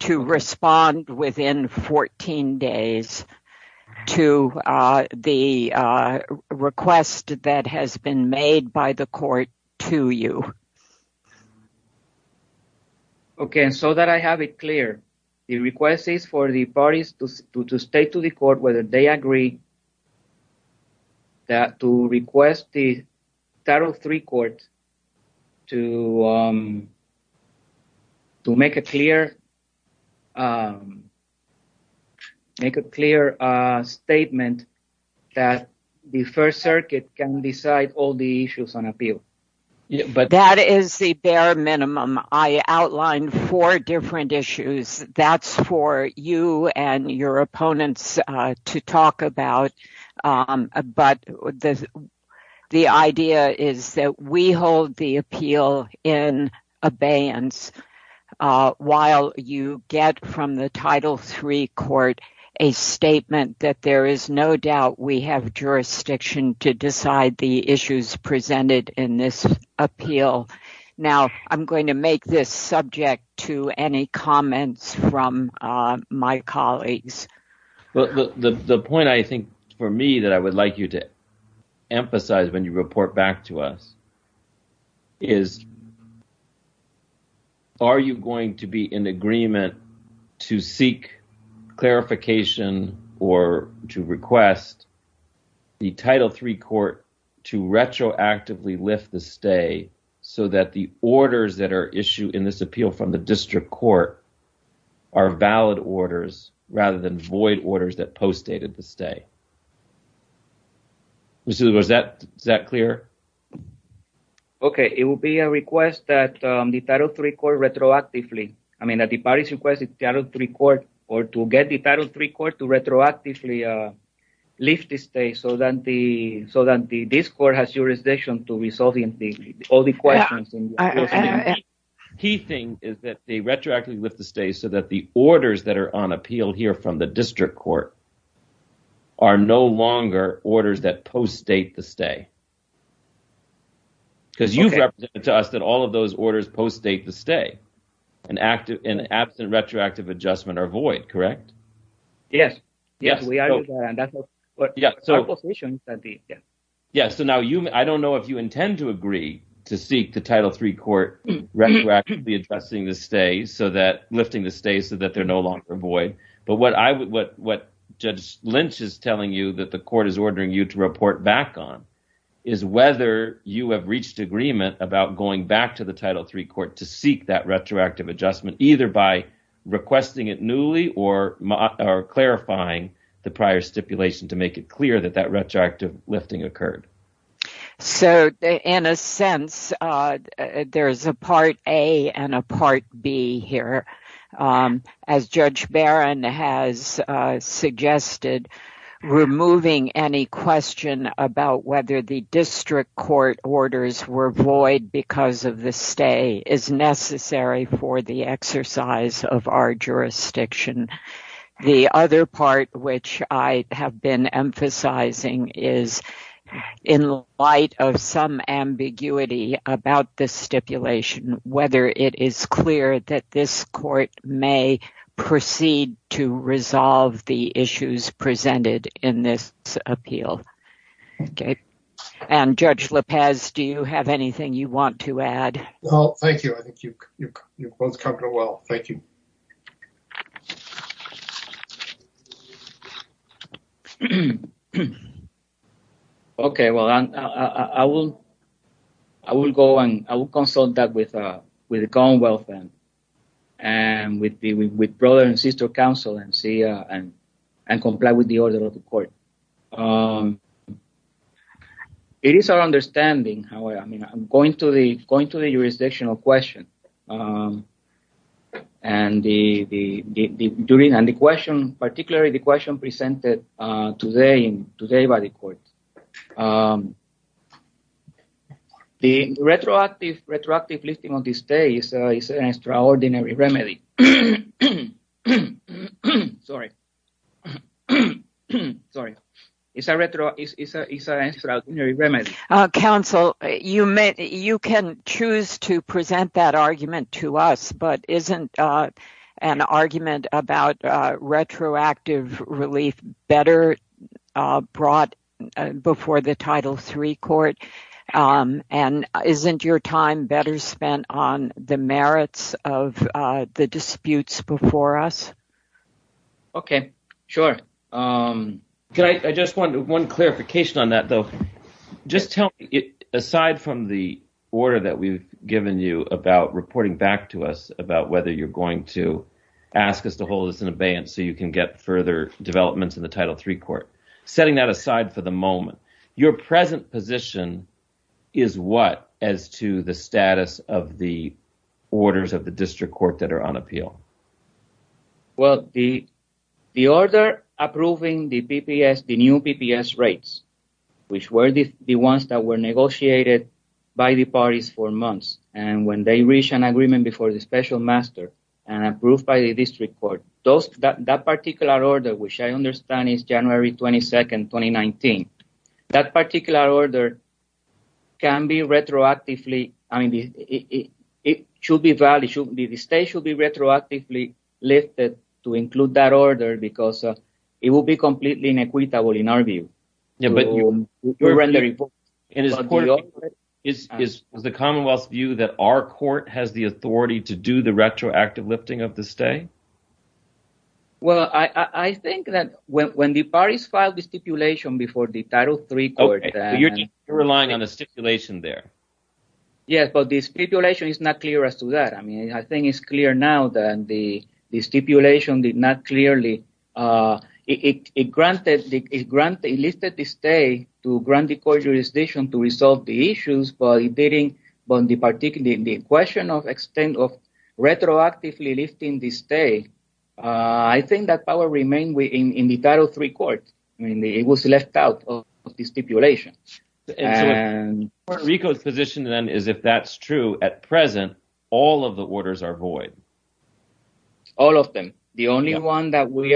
to respond within 14 days to the request that has been made by the court to you. Okay, so that I have it clear. The request is for the parties to state to the court whether they agree that to request the Title III court to make a clear, make a clear statement that the First Circuit can decide all the issues on appeal. But- That is the bare minimum. I outlined four different issues. That's for you and your opponents to talk about. But the idea is that we hold the appeal in abeyance while you get from the Title III court a statement that there is no doubt we have jurisdiction to decide the issues presented in this appeal. Now, I'm going to make this subject to any comments from my colleagues. But the point I think for me that I would like you to emphasize when you report back to us is, are you going to be in agreement to seek clarification or to request the Title III court to retroactively lift the stay so that the orders that are issued in this appeal from the district court are valid orders rather than void orders that postdated the stay? Was that clear? Okay, it would be a request that the Title III court retroactively, I mean, that the parties request the Title III court or to get the Title III court to retroactively lift the stay so that the district court has jurisdiction to resolve all the questions in the appeal. Key thing is that they retroactively lift the stay so that the orders that are on appeal here from the district court are no longer orders that postdate the stay. Because you've represented to us that all of those orders postdate the stay and absent retroactive adjustment are void, correct? Yes, yes, we are. Yes, so now I don't know if you intend to agree to seek the Title III court retroactively adjusting the stay so that, lifting the stay so that they're no longer void. But what Judge Lynch is telling you that the court is ordering you to report back on is whether you have reached agreement about going back to the Title III court to seek that retroactive adjustment either by requesting it newly or clarifying the prior stipulation to make it clear that that retroactive lifting occurred. So in a sense, there's a part A and a part B here. As Judge Barron has suggested, removing any question about whether the district court orders were void because of the stay is necessary for the exercise of our jurisdiction. The other part which I have been emphasizing is in light of some ambiguity about this stipulation, whether it is clear that this court may proceed to resolve the issues presented in this appeal. And Judge Lopez, do you have anything you want to add? Well, thank you, I think you both covered it well. Thank you. Okay, well, I will go and I will consult that with the Commonwealth and with brother and sister counsel and comply with the order of the court. It is our understanding, however, I mean, I'm going to the jurisdictional question. And the question, particularly the question presented today by the court. The retroactive lifting of the stay is an extraordinary remedy. Sorry. Sorry. It's an extraordinary remedy. Counsel, you can choose to present that argument to us, but isn't an argument about retroactive relief better brought before the Title III court? And isn't your time better spent on the merits of the disputes before us? Okay, sure. Can I just want one clarification on that though? Just tell me, aside from the order that we've given you about reporting back to us about whether you're going to ask us to hold us in abeyance so you can get further developments in the Title III court. Setting that aside for the moment, your present position is what as to the status of the orders of the district court that are on appeal? Well, the order approving the PPS, the new PPS rates, which were the ones that were negotiated by the parties for months. And when they reach an agreement before the special master and approved by the district court, that particular order, which I understand is January 22nd, 2019. That particular order can be retroactively, I mean, it should be valid, the state should be retroactively listed to include that order because it will be completely inequitable in our view. Yeah, but you're rendering... It is important, is the Commonwealth view that our court has the authority to do the retroactive lifting of the state? Well, I think that when the parties filed the stipulation before the Title III court... Oh, so you're relying on a stipulation there. Yes, but the stipulation is not clear as to that. I mean, I think it's clear now that the stipulation did not clearly, it granted, it listed the state to grant the court jurisdiction to resolve the issues, but it didn't, but the question of extent of retroactively listing the state, I think that power remained in the Title III court. I mean, it was left out of the stipulation. Puerto Rico's position then is if that's true, at present, all of the orders are void. All of them. The only one that we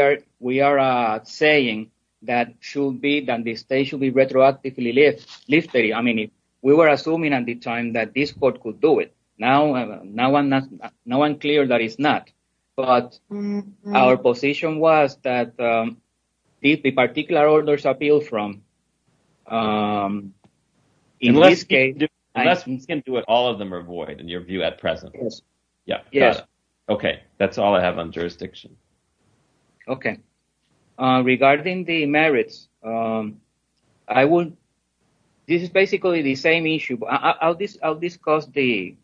are saying that should be, that the state should be retroactively listed, I mean, we were assuming at the time that this court could do it. Now, I'm clear that it's not, but our position was that if the particular orders appeal from, in this case... Unless we can do it, all of them are void in your view at present. Yeah. Okay, that's all I have on jurisdiction. Okay. Regarding the merits, I would, this is basically the same issue, I'll discuss the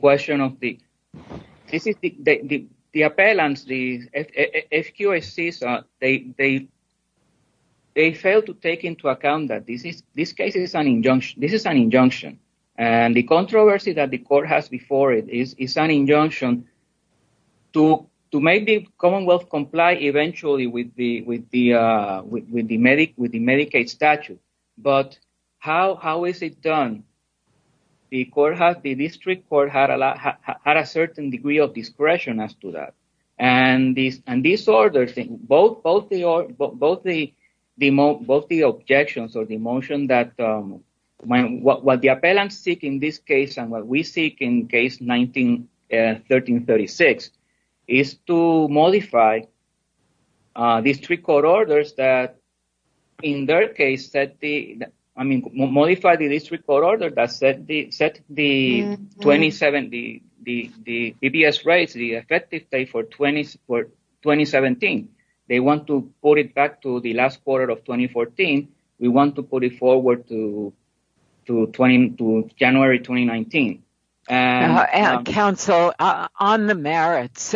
question of the, the appellants, the SQSCs, they failed to take into account that this case is an injunction. And the controversy that the court has before it is an injunction to make the Commonwealth comply eventually with the Medicaid statute. But how is it done? The district court had a certain degree of discretion as to that. And these orders, both the objections or the motion that what the appellants seek in this case and what we seek in case 19-1336 is to modify district court orders that in their case that the, I mean, modify the district court order that set the 2070, the PBS rates, the effective date for 2017. They want to put it back to the last quarter of 2014. We want to put it forward to January, 2019. And- Counsel, on the merits,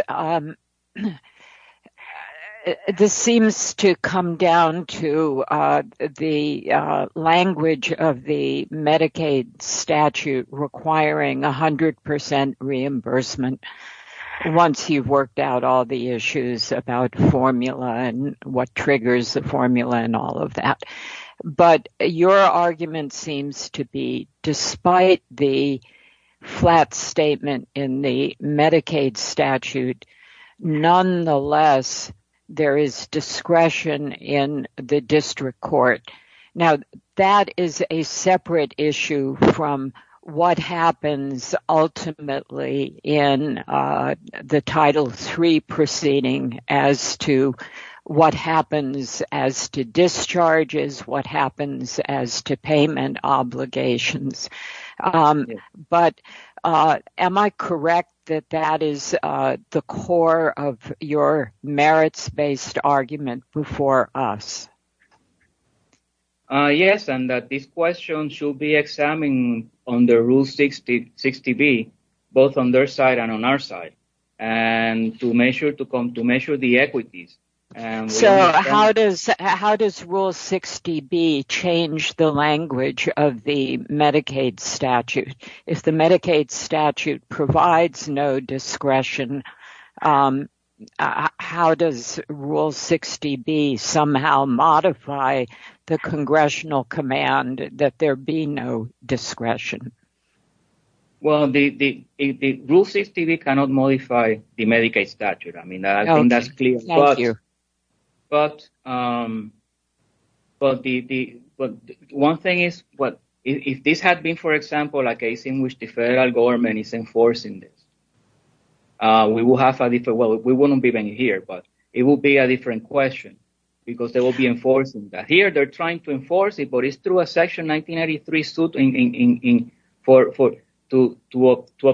this seems to come down to the language of the Medicaid statute requiring 100% reimbursement once you've worked out all the issues about formula and what triggers the formula and all of that. But your argument seems to be, despite the flat statement in the Medicaid statute nonetheless, there is discretion in the district court. Now that is a separate issue from what happens ultimately in the Title III proceeding as to what happens as to discharges, what happens as to payment obligations. But am I correct that that is the core of your merits-based argument before us? Yes, and that this question should be examined on the Rule 60B, both on their side and on our side and to measure the equities. So how does Rule 60B change the language of the Medicaid statute? If the Medicaid statute provides no discretion, how does Rule 60B somehow modify the congressional command that there be no discretion? Well, the Rule 60B cannot modify the Medicaid statute. I mean, I think that's clear as well. But one thing is, if this had been, for example, a case in which the federal government is enforcing this, we wouldn't be even here, but it will be a different question because they will be enforcing that. Here, they're trying to enforce it, but it's through a Section 1993 suit to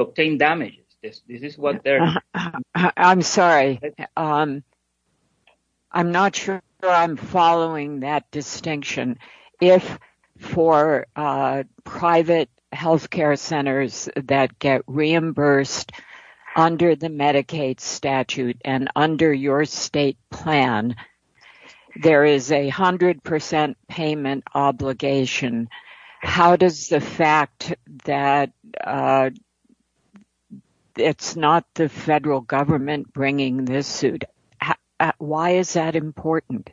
obtain damages. This is what they're- I'm sorry. I'm not sure I'm following that distinction. If for private healthcare centers that get reimbursed under the Medicaid statute and under your state plan, there is a 100% payment obligation, how does the fact that it's not the federal government bringing this suit, why is that important?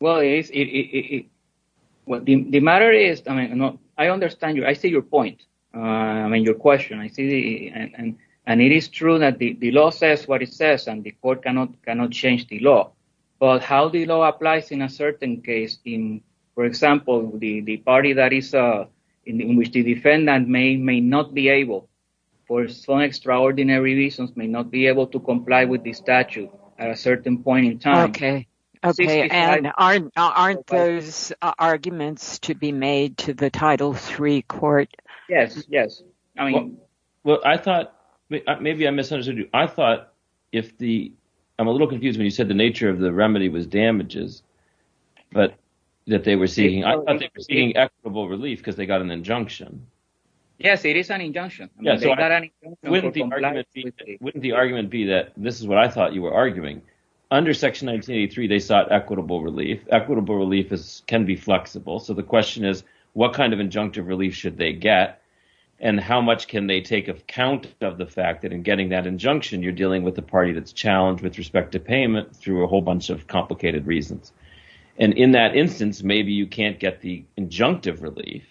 Well, the matter is, I understand you. I see your point, I mean, your question. I see, and it is true that the law says what it says and the court cannot change the law. But how the law applies in a certain case, in, for example, the party that is, in which the defendant may not be able, for some extraordinary reasons, may not be able to comply with the statute at a certain point in time. Okay, okay, and aren't those arguments to be made to the Title III court? Yes, yes. Well, I thought, maybe I misunderstood you. I thought if the, I'm a little confused when you said the nature of the remedy was damages, but that they were seeing, I thought they were seeing equitable relief because they got an injunction. Yes, it is an injunction. Yes, so wouldn't the argument be that, this is what I thought you were arguing. Under Section 1983, they sought equitable relief. Equitable relief can be flexible. So the question is, what kind of injunctive relief should they get and how much can they take account of the fact that in getting that injunction, you're dealing with a party that's challenged with respect to payment through a whole bunch of complicated reasons. And in that instance, maybe you can't get the injunctive relief,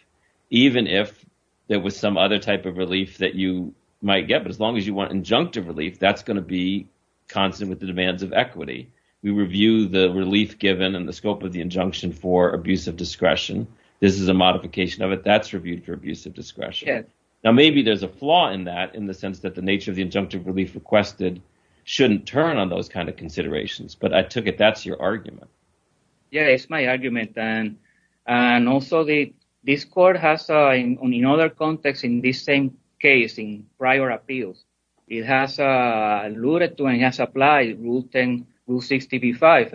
even if there was some other type of relief that you might get. But as long as you want injunctive relief, that's gonna be constant with the demands of equity. We review the relief given and the scope of the injunction for abuse of discretion. This is a modification of it. That's reviewed for abuse of discretion. Now, maybe there's a flaw in that in the sense that the nature of the injunctive relief requested shouldn't turn on those kinds of considerations. But I took it that's your argument. Yeah, it's my argument. And also, this court has in other contexts in this same case, in prior appeals, it has alluded to and has applied Rule 10, Rule 65.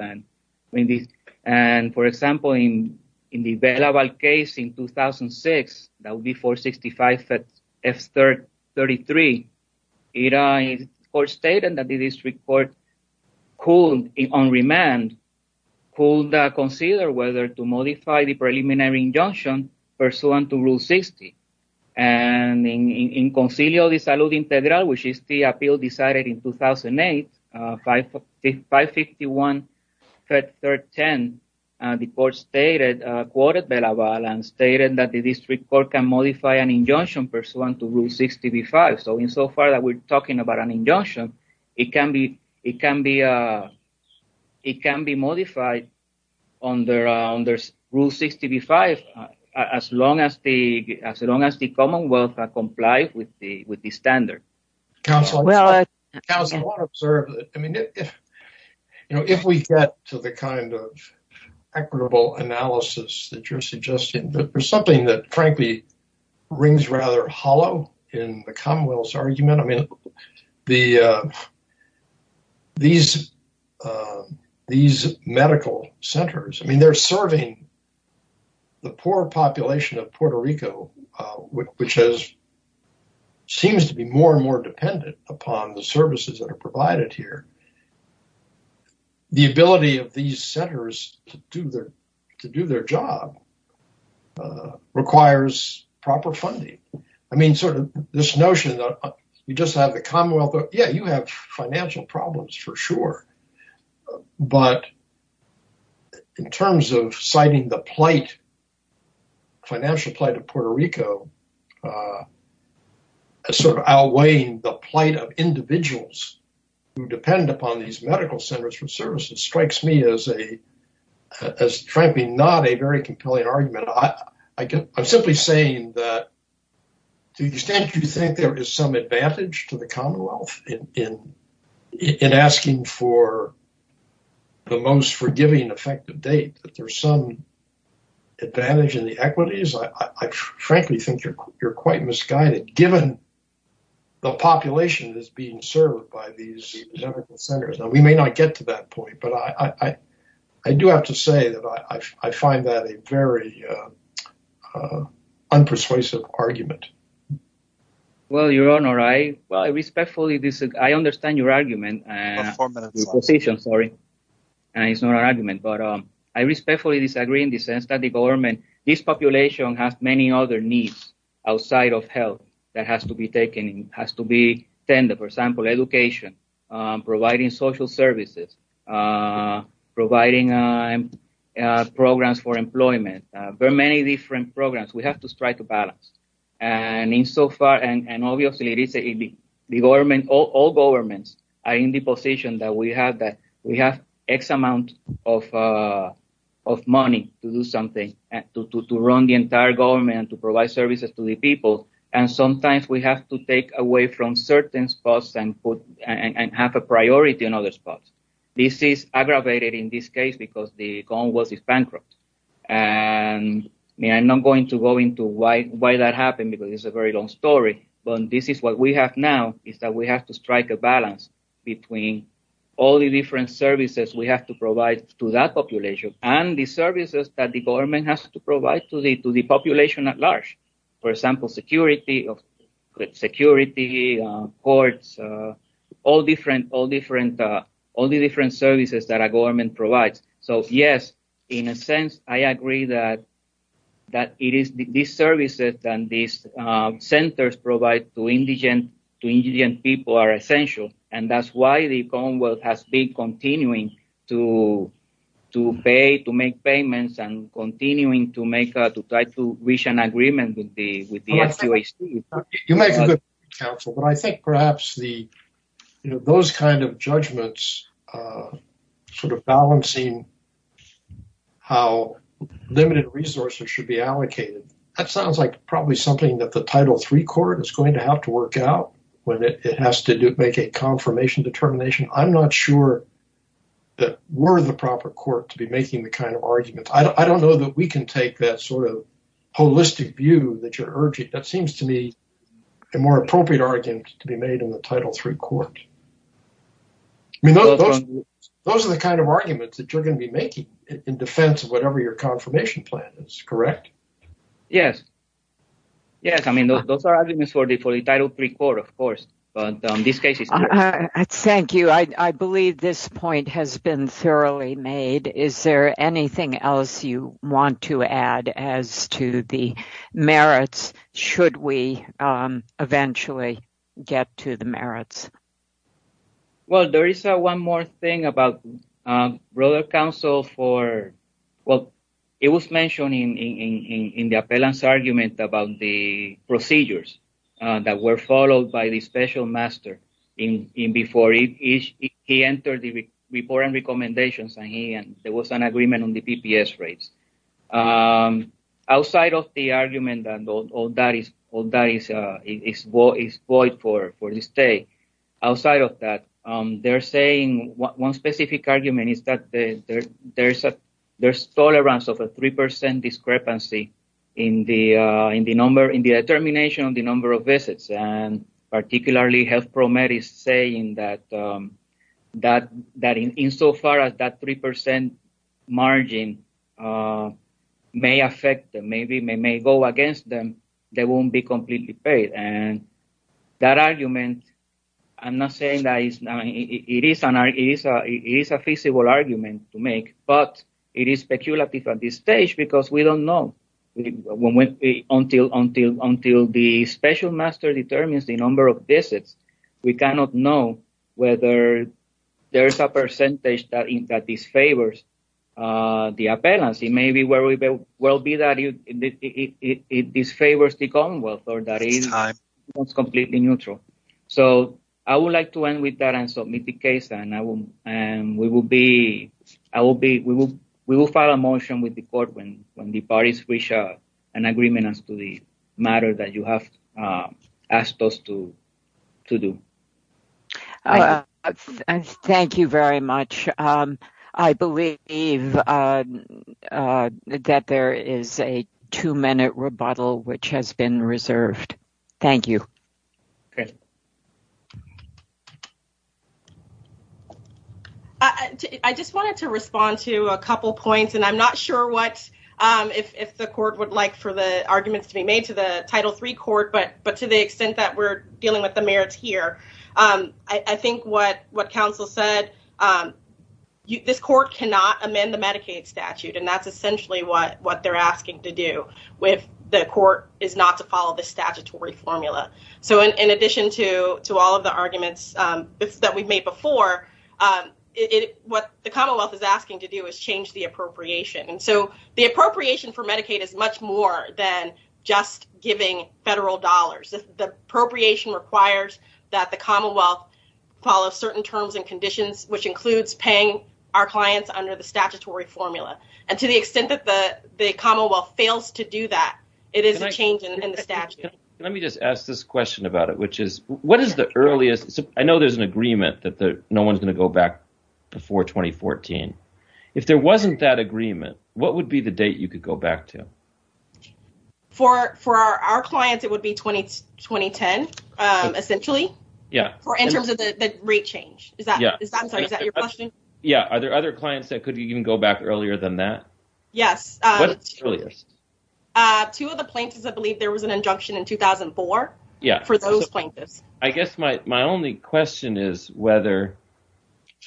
And for example, in the Belaval case in 2006, that would be 465, F-33, it was stated that the district court could, on remand, could consider whether to modify the preliminary injunction pursuant to Rule 60. And in Concilio de Salud Integral, which is the appeal decided in 2008, 551, Chapter 10, the court stated, quoted Belaval, and stated that the district court can modify an injunction pursuant to Rule 65. So, insofar that we're talking about an injunction, it can be modified under Rule 65 as long as the Commonwealth complies with the standard. Counsel, I want to observe, I mean, if we get to the kind of equitable analysis that you're suggesting, there's something that frankly rings rather hollow in the Commonwealth's argument. I mean, these medical centers, I mean, they're serving the poor population of Puerto Rico, which has, seems to be more and more dependent upon the services that are provided here. The ability of these centers to do their job requires proper funding. I mean, sort of this notion that you just have the Commonwealth, yeah, you have financial problems, for sure, but in terms of citing the plight, financial plight of Puerto Rico, sort of outweighing the plight of individuals who depend upon these medical centers for services strikes me as frankly not a very compelling argument. I'm simply saying that to the extent you think there is some advantage to the Commonwealth in asking for the most forgiving effective date, that there's some advantage in the equities, I frankly think you're quite misguided given the population that's being served by these medical centers. Now, we may not get to that point, but I do have to say that I find that a very unpersuasive argument. Well, Your Honor, I respectfully disagree. I understand your argument, your position, sorry, and it's not an argument, but I respectfully disagree in the sense that the government, this population has many other needs outside of health that has to be taken, has to be tended, for example, education, providing social services, providing programs for employment, very many different programs, we have to strike a balance. And in so far, and obviously the government, all governments are in the position that we have X amount of money to do something and to run the entire government and to provide services to the people. And sometimes we have to take away from certain spots and have a priority in other spots. This is aggravated in this case because the Commonwealth is bankrupt. And I'm not going to go into why that happened because it's a very long story, but this is what we have now is that we have to strike a balance between all the different services we have to provide to that population and the services that the government has to provide to the population at large. For example, security, security, courts, all the different services that our government provides. So yes, in a sense, I agree that these services and these centers provide to indigent people are essential. And that's why the Commonwealth has been continuing to pay, to make payments and continuing to try to reach an agreement with the FQHC. You make a good point, counsel, but I think perhaps those kinds of judgments sort of balancing how limited resources should be allocated, that sounds like probably something that the Title III Court is going to have to work out whether it has to make a confirmation determination. I'm not sure that we're the proper court to be making the kind of arguments. I don't know that we can take that sort of holistic view that you're urging. That seems to me a more appropriate argument to be made in the Title III Court. Those are the kind of arguments that you're gonna be making in defense of whatever your confirmation plan is, correct? Yes. Yes. I mean, those are arguments for the Title III Court, of course, but in this case- Thank you. I believe this point has been thoroughly made. Is there anything else you want to add as to the merits, should we eventually get to the merits? Well, there is one more thing about brother counsel for, well, it was mentioned in the appellant's argument about the procedures that were followed by the special master before he entered the report and recommendations, and there was an agreement on the PPS rates. Outside of the argument, and all that is void for this day, outside of that, they're saying one specific argument is that there's tolerance of a 3% discrepancy in the determination of the number of visits, and particularly health pro med is saying that insofar as that 3% margin may affect and maybe may go against them, they won't be completely paid. And that argument, I'm not saying that it's not, it is a feasible argument to make, but it is speculative at this stage because we don't know until the special master determines the number of visits. We cannot know whether there's a percentage that disfavors the appellants. It may be where we will be that it disfavors the commonwealth or that it's completely neutral. So I would like to end with that and submit the case, and we will file a motion with the court when the parties reach an agreement as to the matter that you have asked us to do. Thank you very much. I believe that there is a two minute rebuttal which has been reserved. Thank you. I just wanted to respond to a couple points, and I'm not sure what, if the court would like for the arguments to be made to the Title III court, but to the extent that we're dealing with the mayors here, I think what counsel said, this court cannot amend the Medicaid statute, and that's essentially what they're asking to do with the court is not to follow the statutory formula. So in addition to all of the arguments that we've made before, what the commonwealth is asking to do is change the appropriation. And so the appropriation for Medicaid is much more than just giving federal dollars. The appropriation requires that the commonwealth follow certain terms and conditions, which includes paying our clients under the statutory formula. And to the extent that the commonwealth fails to do that, it is a change in the statute. Let me just ask this question about it, which is, what is the earliest, I know there's an agreement that no one's gonna go back before 2014. If there wasn't that agreement, what would be the date you could go back to? For our clients, it would be 2010, essentially. In terms of the rate change. Is that your question? Yeah, are there other clients that could even go back earlier than that? Yes. What's the earliest? Two of the plaintiffs, I believe there was an injunction in 2004 for those plaintiffs. I guess my only question is whether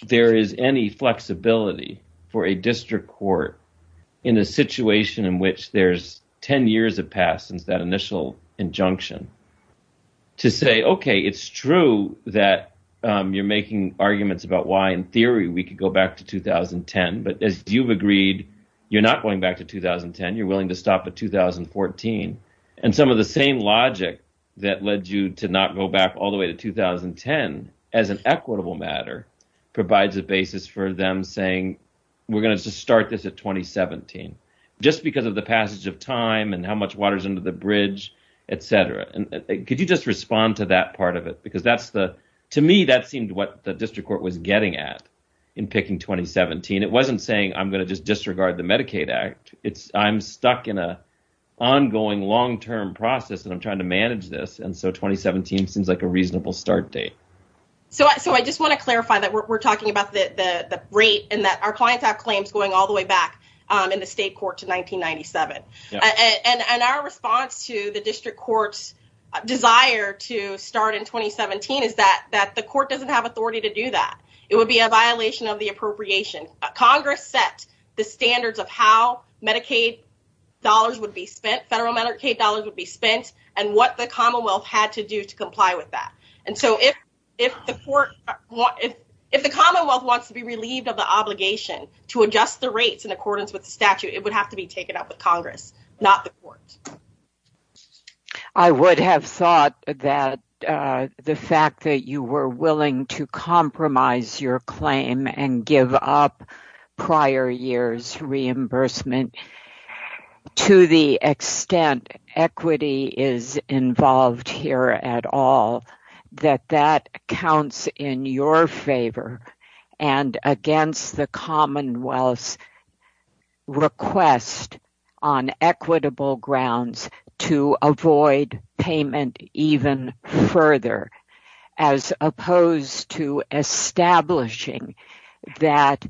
there is any flexibility for a district court in a situation in which there's 10 years have passed since that initial injunction to say, okay, it's true that you're making arguments about why in theory we could go back to 2010, but as you've agreed, you're not going back to 2010, you're willing to stop at 2014. And some of the same logic that led you to not go back all the way to 2010 as an equitable matter provides a basis for them saying, we're gonna just start this at 2017, just because of the passage of time and how much water's under the bridge, et cetera. Could you just respond to that part of it? Because to me, that seemed what the district court was getting at in picking 2017. It wasn't saying I'm gonna just disregard the Medicaid Act. I'm stuck in a ongoing long-term process and I'm trying to manage this. And so 2017 seems like a reasonable start date. So I just wanna clarify that we're talking about the rate and that our clients have claims going all the way back in the state court to 1997. And our response to the district court's desire to start in 2017 is that the court doesn't have authority to do that. It would be a violation of the appropriation. Congress set the standards of how Medicaid dollars would be spent, federal Medicaid dollars would be spent and what the Commonwealth had to do to comply with that. And so if the Commonwealth wants to be relieved of the obligation to adjust the rates in accordance with the statute, it would have to be taken up with Congress, not the court. I would have thought that the fact that you were willing to compromise your claim and give up prior year's reimbursement to the extent equity is involved here at all, that that counts in your favor. And against the Commonwealth's request on equitable grounds to avoid payment even further, as opposed to establishing that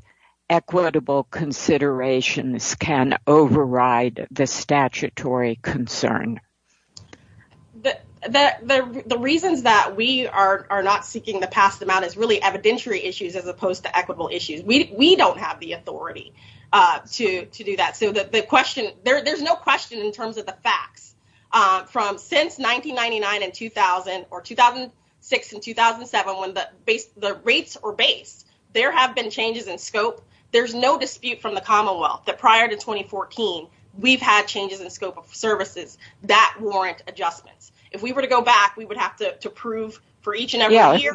equitable considerations can override the statutory concern. The reason that we are not seeking to pass them out is really evidentiary issues as opposed to equitable issues. We don't have the authority to do that. So the question, there's no question in terms of the facts from since 1999 and 2000 or 2006 and 2007, when the rates were based, there have been changes in scope. There's no dispute from the Commonwealth that prior to 2014, we've had changes in scope of services that warrant adjustments. If we were to go back, we would have to prove for each and every year.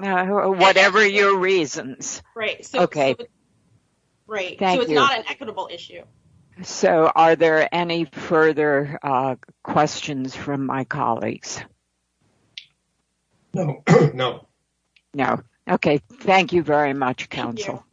Whatever your reasons. Right. Okay. Right. Thank you. So it's not an equitable issue. So are there any further questions from my colleagues? No. No. Okay, thank you very much, counsel.